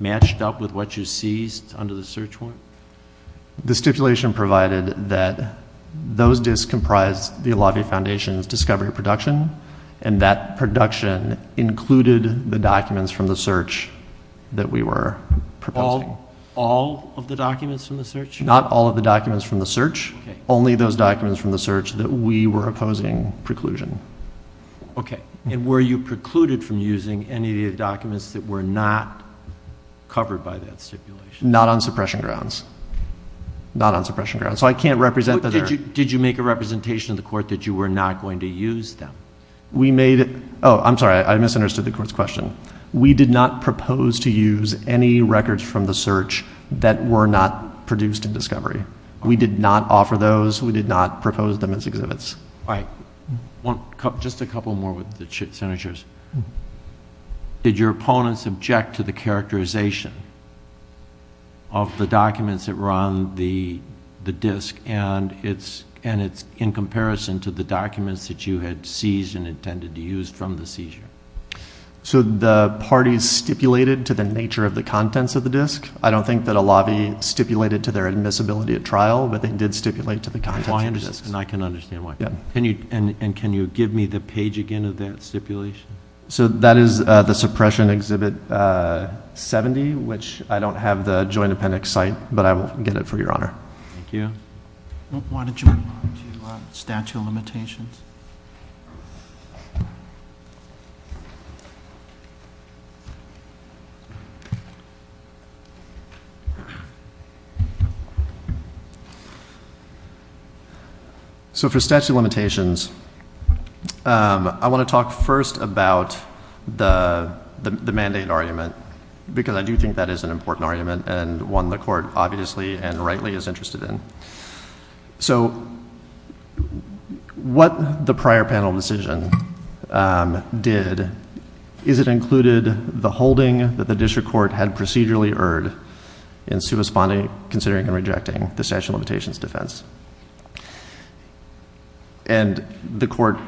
matched up with what you seized under the search warrant? The stipulation provided that those disks comprised the Illawarra Foundation's discovery of production and that production included the documents from the search that we were proposing. All of the documents from the search? Not all of the documents from the search, only those documents from the search that we were opposing preclusion. Okay. And were you precluded from using any of the documents that were not covered by that stipulation? Not on suppression grounds. Not on suppression grounds. So I can't represent them. Did you make a representation to the court that you were not going to use them? We made, oh, I'm sorry, I misunderstood the court's question. We did not propose to use any records from the search that were not produced in discovery. We did not offer those. We did not propose them as exhibits. All right. Just a couple more with the signatures. Did your opponents object to the characterization of the documents that were on the disk and it's in comparison to the documents that you had seized and intended to use from the seizure? So the parties stipulated to the nature of the contents of the disk? I don't think that a lobby stipulated to their admissibility at trial, but they did stipulate to the contents of the disk, and I can understand why. And can you give me the page again of that stipulation? So that is the suppression exhibit 70, which I don't have the Joint Appendix site, but I will get it for your honor. Thank you. Why don't you move on to statute of limitations? So for statute of limitations, I want to talk first about the mandate argument, because I do think that is an important argument and one the court obviously and rightly is interested in. What the prior panel decision did is it included the holding that the district court had procedurally erred in supersponding, considering, and rejecting the statute of limitations defense. And the court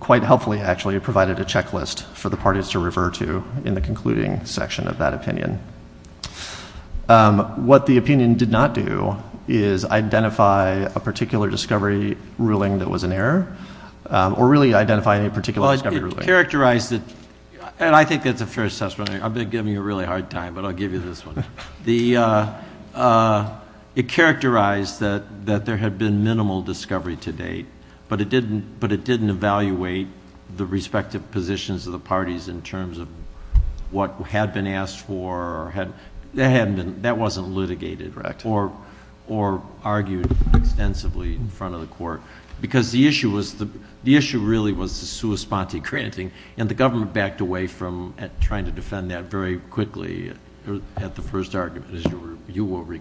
quite helpfully actually provided a checklist for the parties to refer to in the concluding section of that opinion. What the opinion did not do is identify a particular discovery ruling that was an error, or really identify any particular discovery ruling. Well, it characterized it, and I think that's a fair assessment. I've been giving you a really hard time, but I'll give you this one. It characterized that there had been minimal discovery to date, but it didn't evaluate the respective positions of the parties in terms of what had been asked for or that wasn't litigated or argued extensively in front of the court. Because the issue really was the suespante granting, and the government backed away from trying to defend that very quickly at the first argument.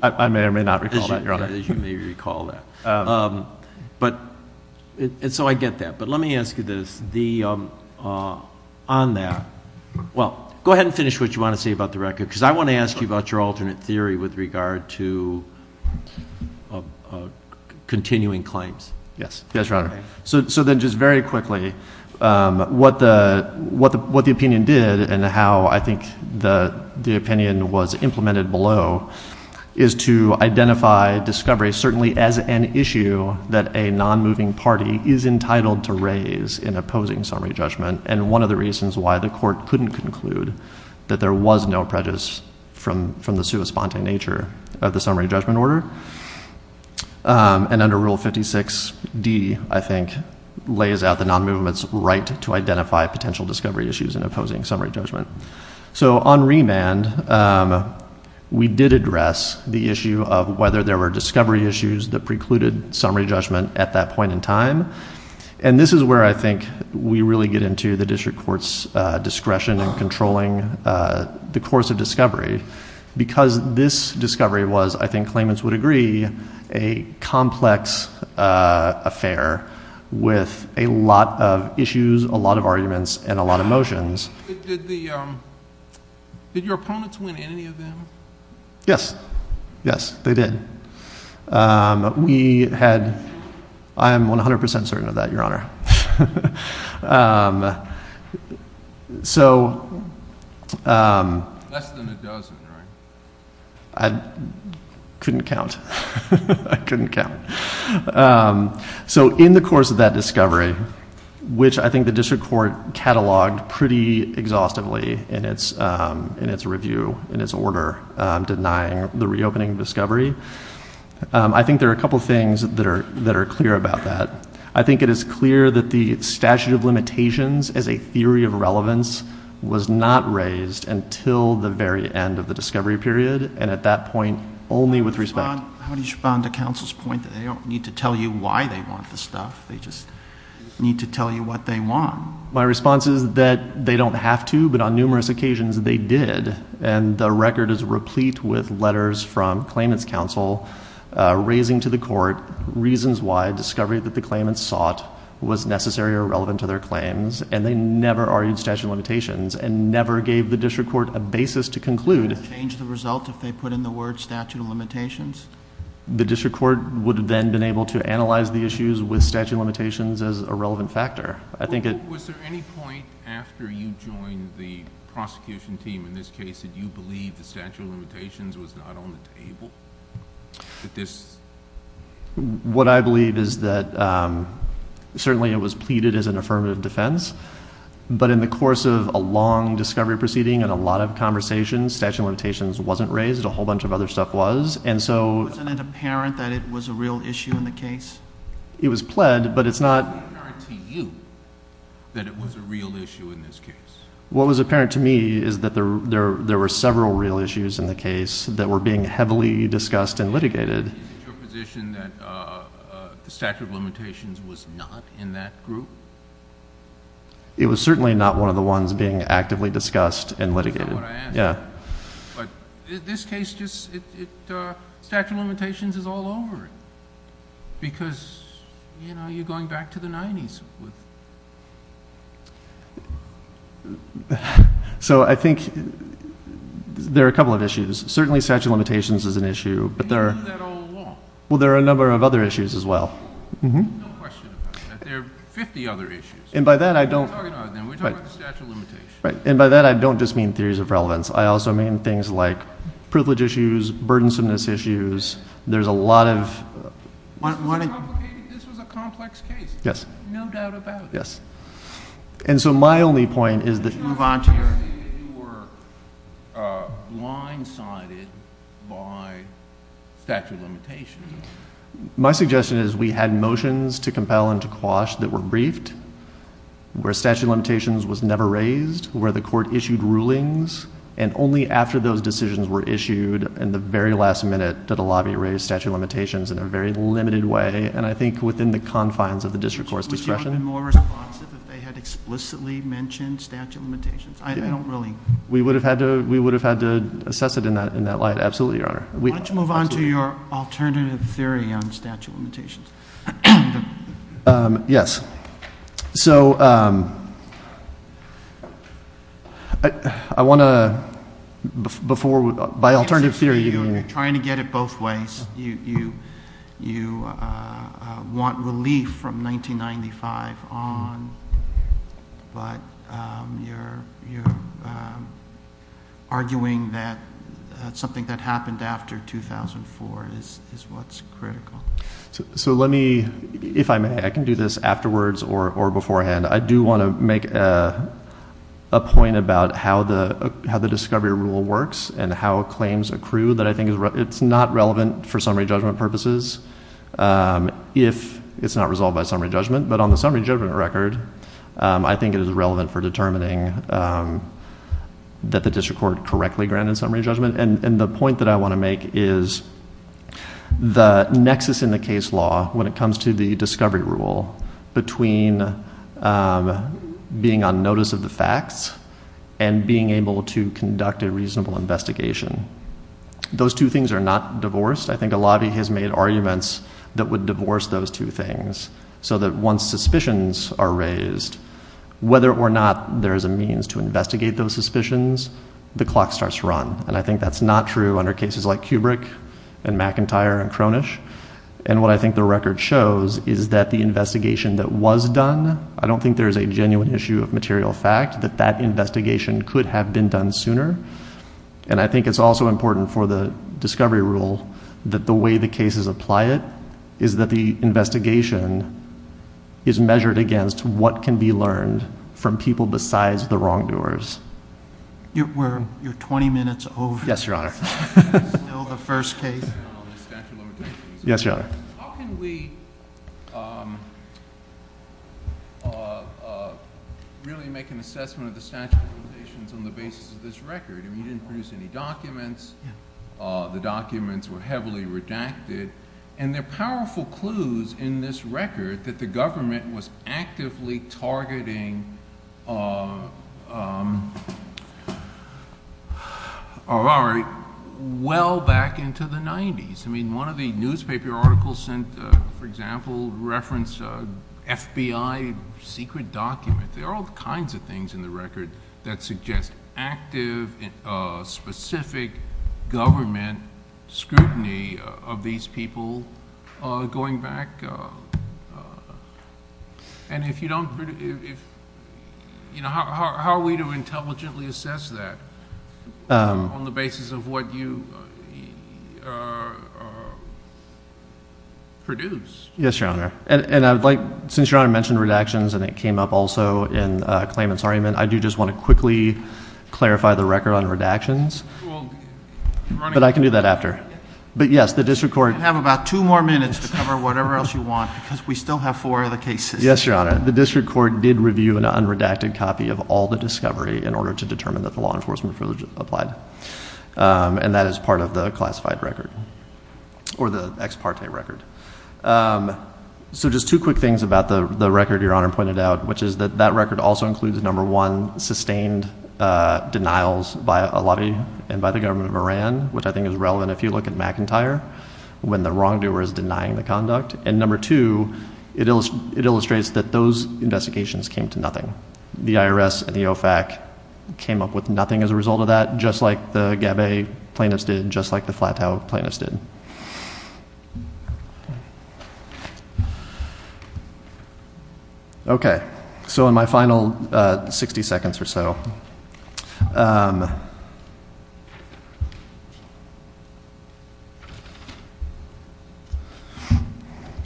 I may or may not recall that, Your Honor. You may recall that. And so I get that, but let me ask you this. On that, well, go ahead and finish what you want to say about the record, because I want to ask you about your alternate theory with regard to continuing claims. Yes, Your Honor. So then just very quickly, what the opinion did, and how I think the opinion was implemented below, is to identify discovery certainly as an issue that a non-moving party is entitled to raise in opposing summary judgment, and one of the reasons why the court couldn't conclude that there was no prejudice from the suespante nature of the summary judgment order. And under Rule 56D, I think, lays out the non-movement's right to identify potential discovery issues in opposing summary judgment. So on remand, we did address the issue of whether there were discovery issues that precluded summary judgment at that point in time, and this is where I think we really get into the district court's discretion in controlling the course of discovery, because this discovery was, I think claimants would agree, a complex affair with a lot of issues, a lot of arguments, and a lot of motions. Did your opponents win any of them? Yes. Yes, they did. We had—I'm 100% certain of that, Your Honor. So— Less than a dozen, right? I couldn't count. I couldn't count. So in the course of that discovery, which I think the district court cataloged pretty exhaustively in its review, in its order denying the reopening of discovery, I think there are a couple things that are clear about that. I think it is clear that the statute of limitations as a theory of relevance was not raised until the very end of the discovery period, and at that point only with respect— How do you respond to counsel's point that they don't need to tell you why they want the stuff, they just need to tell you what they want? My response is that they don't have to, but on numerous occasions they did, and the record is replete with letters from claimants' counsel raising to the court reasons why discovery that the claimants sought was necessary or relevant to their claims, and they never argued statute of limitations and never gave the district court a basis to conclude. Would that change the result if they put in the word statute of limitations? The district court would then have been able to analyze the issues with statute of limitations as a relevant factor. Was there any point after you joined the prosecution team in this case that you believed that statute of limitations was not on the table? What I believe is that certainly it was pleaded as an affirmative defense, but in the course of a long discovery proceeding and a lot of conversations, statute of limitations wasn't raised. A whole bunch of other stuff was. Isn't it apparent that it was a real issue in the case? It was pled, but it's not. Isn't it apparent to you that it was a real issue in this case? What was apparent to me is that there were several real issues in the case that were being heavily discussed and litigated. Is it your position that statute of limitations was not in that group? It was certainly not one of the ones being actively discussed and litigated. But in this case, statute of limitations is all over it because you're going back to the 90s. So I think there are a couple of issues. Certainly statute of limitations is an issue. But there are a number of other issues as well. No question about it. We're talking about statute of limitations. And by that, I don't just mean theories of relevance. I also mean things like privilege issues, burdensomeness issues. There's a lot of... This was a complex case. Yes. No doubt about it. Yes. And so my only point is that... My suggestion is we had motions to compel and to quash that were briefed where statute of limitations was never raised, where the court issued rulings, and only after those decisions were issued, in the very last minute, did the lobby raise statute of limitations in a very limited way. And I think within the confines of the district court's discretion. Would you have been more responsive if they had explicitly mentioned statute of limitations? I don't really... We would have had to assess it in that light. Absolutely, Your Honor. Let's move on to your alternative theory on statute of limitations. Yes. So... I want to... Before... By alternative theory... You're trying to get it both ways. You want relief from 1995 on, but you're arguing that something that happened after 2004 is what's critical. So let me... If I may, I can do this afterwards or beforehand. I do want to make a point about how the discovery rule works and how claims accrue, that I think it's not relevant for summary judgment purposes if it's not resolved by summary judgment. But on the summary judgment record, I think it is relevant for determining that the district court correctly granted summary judgment. And the point that I want to make is the nexus in the case law when it comes to the discovery rule between being on notice of the facts and being able to conduct a reasonable investigation. Those two things are not divorced. I think a lot of you have made arguments that would divorce those two things so that once suspicions are raised, whether or not there is a means to investigate those suspicions, the clock starts to run. And I think that's not true under cases like Kubrick and McIntyre and Cronish. And what I think the record shows is that the investigation that was done, I don't think there's a genuine issue of material fact that that investigation could have been done sooner. And I think it's also important for the discovery rule that the way the cases apply it is that the investigation is measured against what can be learned from people besides the wrongdoers. Were your 20 minutes over? Yes, Your Honor. The first case? Yes, Your Honor. How can we really make an assessment of the statute of limitations on the basis of this record? We didn't produce any documents. The documents were heavily redacted. And there are powerful clues in this record that the government was actively targeting well back into the 90s. I mean, one of the newspaper articles, for example, referenced FBI secret documents. There are all kinds of things in the record that suggest active specific government scrutiny of these people going back. And how are we to intelligently assess that on the basis of what you produce? Yes, Your Honor. And since Your Honor mentioned redactions and it came up also in Clayman's argument, I do just want to quickly clarify the record on redactions. But I can do that after. You have about two more minutes to cover whatever else you want because we still have four other cases. Yes, Your Honor. The district court did review an unredacted copy of all the discovery in order to determine that the law enforcement privilege applied. And that is part of the classified record or the ex parte record. So just two quick things about the record Your Honor pointed out, which is that that record also includes, number one, sustained denials by a lobby and by the government of Iran, which I think is relevant if you look at McIntyre, when the wrongdoer is denying the conduct. And number two, it illustrates that those investigations came to nothing. The IRS and EOFAC came up with nothing as a result of that, just like the Gabbay plaintiffs did, just like the Flatow plaintiffs did. Thank you. Okay. So in my final 60 seconds or so,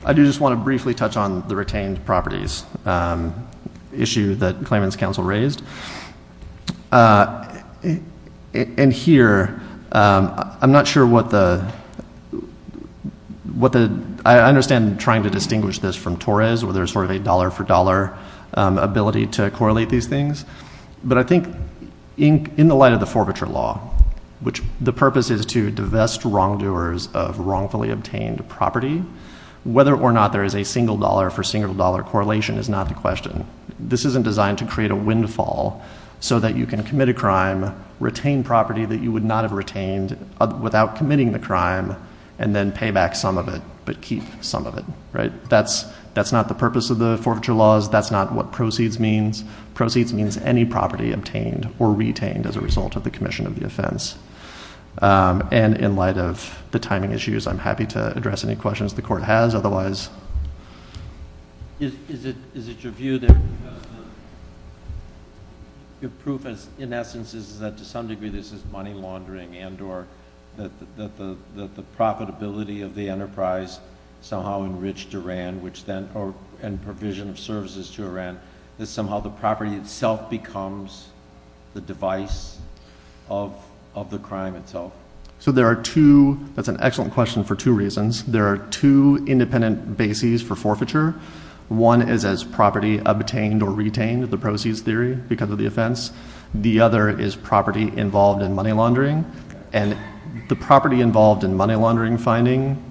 I do just want to briefly touch on the retained properties issue that the Claimant's Counsel raised. And here, I'm not sure what the — I understand trying to distinguish this from Torres, where there's sort of a dollar-for-dollar ability to correlate these things. But I think in the light of the forfeiture law, which the purpose is to divest wrongdoers of wrongfully obtained property, whether or not there is a single-dollar-for-single-dollar correlation is not the question. This isn't designed to create a windfall so that you can commit a crime, retain property that you would not have retained without committing the crime, and then pay back some of it but keep some of it, right? That's not the purpose of the forfeiture laws. That's not what proceeds means. Proceeds means any property obtained or retained as a result of the commission of the offense. And in light of the timing issues, I'm happy to address any questions the Court has. Is it your view that the proof, in essence, is that to some degree this is money laundering and or that the profitability of the enterprise somehow enriched Iran, and provision of services to Iran, that somehow the property itself becomes the device of the crime itself? So there are two — that's an excellent question for two reasons. There are two independent bases for forfeiture. One is as property obtained or retained, the proceeds theory, because of the offense. The other is property involved in money laundering. And the property involved in money laundering finding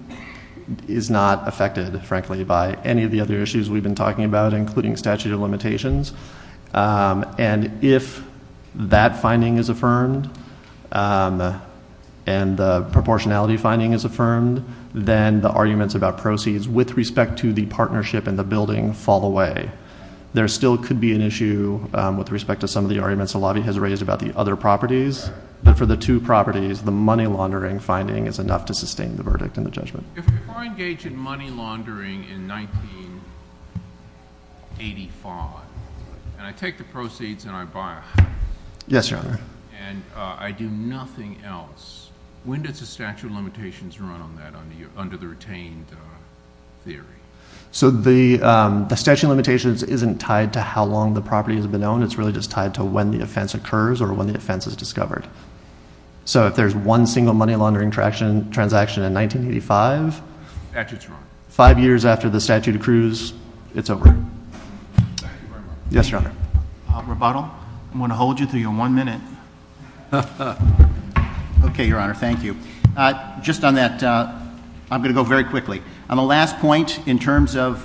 is not affected, frankly, by any of the other issues we've been talking about, including statute of limitations. And if that finding is affirmed and the proportionality finding is affirmed, then the arguments about proceeds with respect to the partnership and the building fall away. There still could be an issue with respect to some of the arguments that Lottie has raised about the other properties. But for the two properties, the money laundering finding is enough to sustain the verdict and the judgment. If I engage in money laundering in 1985, and I take the proceeds and I buy a house — Yes, Your Honor. — and I do nothing else, when does the statute of limitations run on that under the retained theory? So the statute of limitations isn't tied to how long the property has been owned. It's really just tied to when the offense occurs or when the offense is discovered. So if there's one single money laundering transaction in 1985, five years after the statute accrues, it's over. Yes, Your Honor. Rebuttal? I'm going to hold you to your one minute. Okay, Your Honor. Thank you. Just on that, I'm going to go very quickly. On the last point, in terms of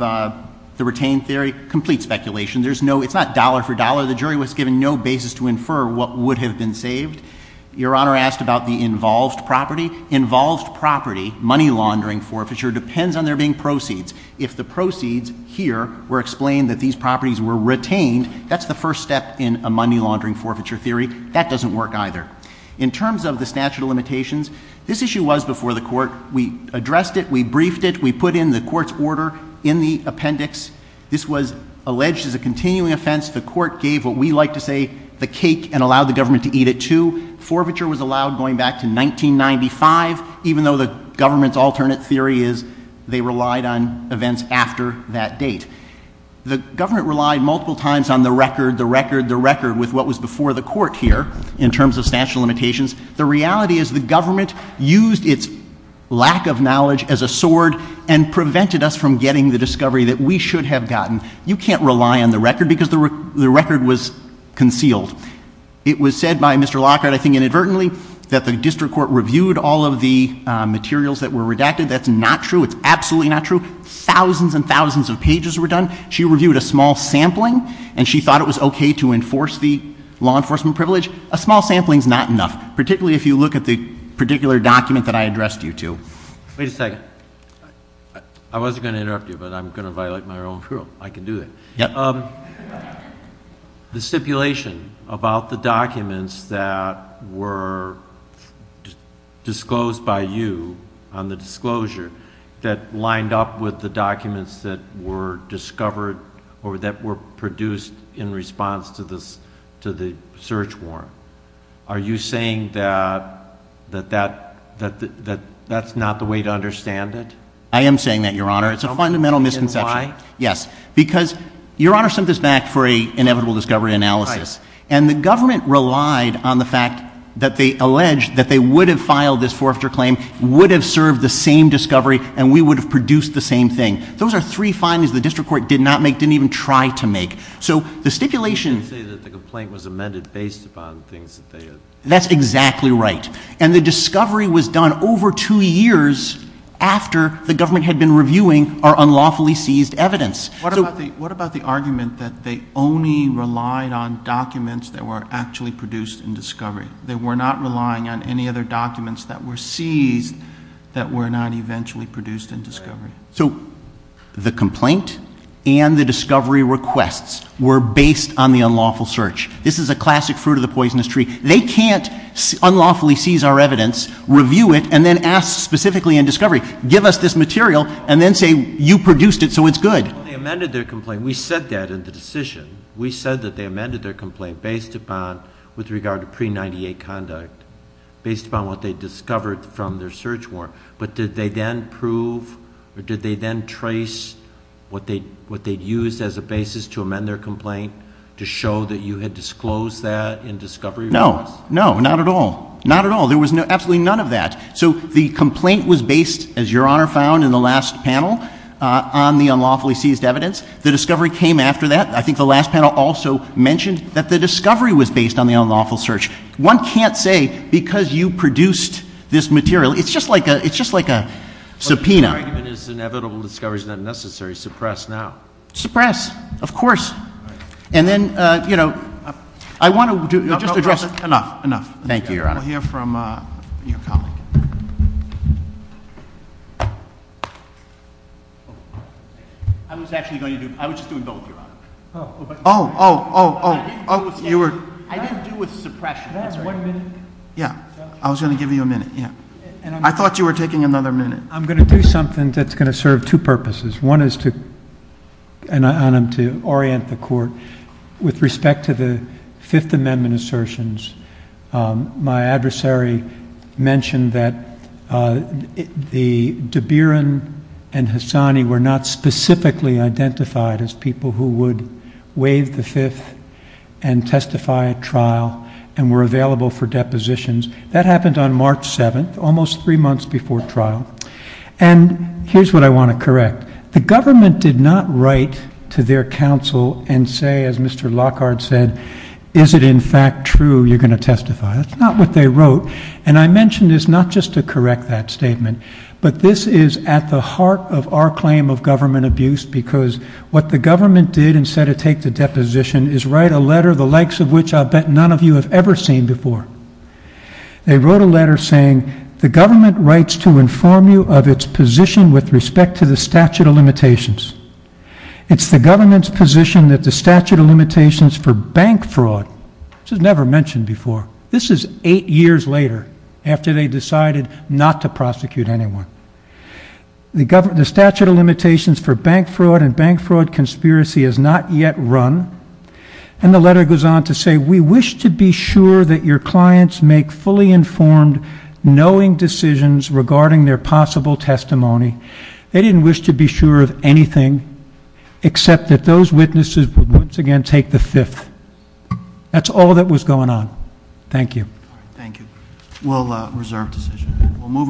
the retained theory, complete speculation. There's no — it's not dollar for dollar. The jury was given no basis to infer what would have been saved. Your Honor asked about the involved property. Involved property, money laundering forfeiture, depends on there being proceeds. If the proceeds here were explained that these properties were retained, that's the first step in a money laundering forfeiture theory. That doesn't work either. In terms of the statute of limitations, this issue was before the Court. We addressed it. We briefed it. We put in the Court's order in the appendix. This was alleged as a continuing offense. The Court gave what we like to say the cake and allowed the government to eat it too. Forfeiture was allowed going back to 1995, even though the government's alternate theory is they relied on events after that date. The government relied multiple times on the record, the record, the record with what was before the Court here in terms of statute of limitations. The reality is the government used its lack of knowledge as a sword and prevented us from getting the discovery that we should have gotten. You can't rely on the record because the record was concealed. It was said by Mr. Lockhart, I think inadvertently, that the district court reviewed all of the materials that were redacted. That's not true. It's absolutely not true. Thousands and thousands of pages were done. She reviewed a small sampling, and she thought it was okay to enforce the law enforcement privilege. A small sampling is not enough, particularly if you look at the particular document that I addressed you to. Wait a second. I wasn't going to interrupt you, but I'm going to violate my own rule. I can do that. The stipulation about the documents that were disclosed by you on the disclosure that lined up with the documents that were discovered or that were produced in response to the search warrant, are you saying that that's not the way to understand it? I am saying that, Your Honor. It's a fundamental misconception. Why? Yes. Because Your Honor sent this back for an inevitable discovery analysis, and the government relied on the fact that they alleged that they would have filed this forfeiture claim, would have served the same discovery, and we would have produced the same thing. Those are three findings the district court did not make, didn't even try to make. So the stipulation— You said that the complaint was amended based upon things that they had— That's exactly right. And the discovery was done over two years after the government had been reviewing our unlawfully seized evidence. What about the argument that they only relied on documents that were actually produced in discovery? They were not relying on any other documents that were seized that were not eventually produced in discovery? So the complaint and the discovery requests were based on the unlawful search. This is a classic fruit of the poisonous tree. They can't unlawfully seize our evidence, review it, and then ask specifically in discovery, give us this material, and then say you produced it so it's good. They amended their complaint. We said that in the decision. We said that they amended their complaint based upon—with regard to pre-'98 conduct, based upon what they discovered from their search warrant. But did they then prove or did they then trace what they used as a basis to amend their complaint to show that you had disclosed that in discovery? No, no, not at all. Not at all. There was absolutely none of that. So the complaint was based, as Your Honor found in the last panel, on the unlawfully seized evidence. The discovery came after that. I think the last panel also mentioned that the discovery was based on the unlawful search. One can't say because you produced this material. It's just like a subpoena. But it's inevitable. Discovery is not necessary. Suppress now. Suppress, of course. And then, you know, I want to just address— No, no, no. Enough. Enough. Thank you, Your Honor. I want to hear from your colleague. I was actually going to do—I was just doing both, Your Honor. Oh. Oh, oh, oh, oh. You were— I didn't do a suppression. That's one minute. Yeah. I was going to give you a minute. Yeah. I thought you were taking another minute. I'm going to do something that's going to serve two purposes. One is to—and I'm to orient the Court with respect to the Fifth Amendment assertions. My adversary mentioned that the De Beeren and Hassani were not specifically identified as people who would waive the Fifth and testify at trial and were available for depositions. That happened on March 7th, almost three months before trial. And here's what I want to correct. The government did not write to their counsel and say, as Mr. Lockhart said, is it in fact true you're going to testify? That's not what they wrote. And I mention this not just to correct that statement, but this is at the heart of our claim of government abuse because what the government did instead of take the deposition is write a letter the likes of which I'll bet none of you have ever seen before. They wrote a letter saying, the government writes to inform you of its position with respect to the statute of limitations. It's the government's position that the statute of limitations for bank fraud, which was never mentioned before, this is eight years later after they decided not to prosecute anyone. The statute of limitations for bank fraud and bank fraud conspiracy has not yet run. And the letter goes on to say, we wish to be sure that your clients make fully informed, knowing decisions regarding their possible testimony. They didn't wish to be sure of anything except that those witnesses would once again take the Fifth. That's all that was going on. Thank you. Thank you. We'll reserve the session.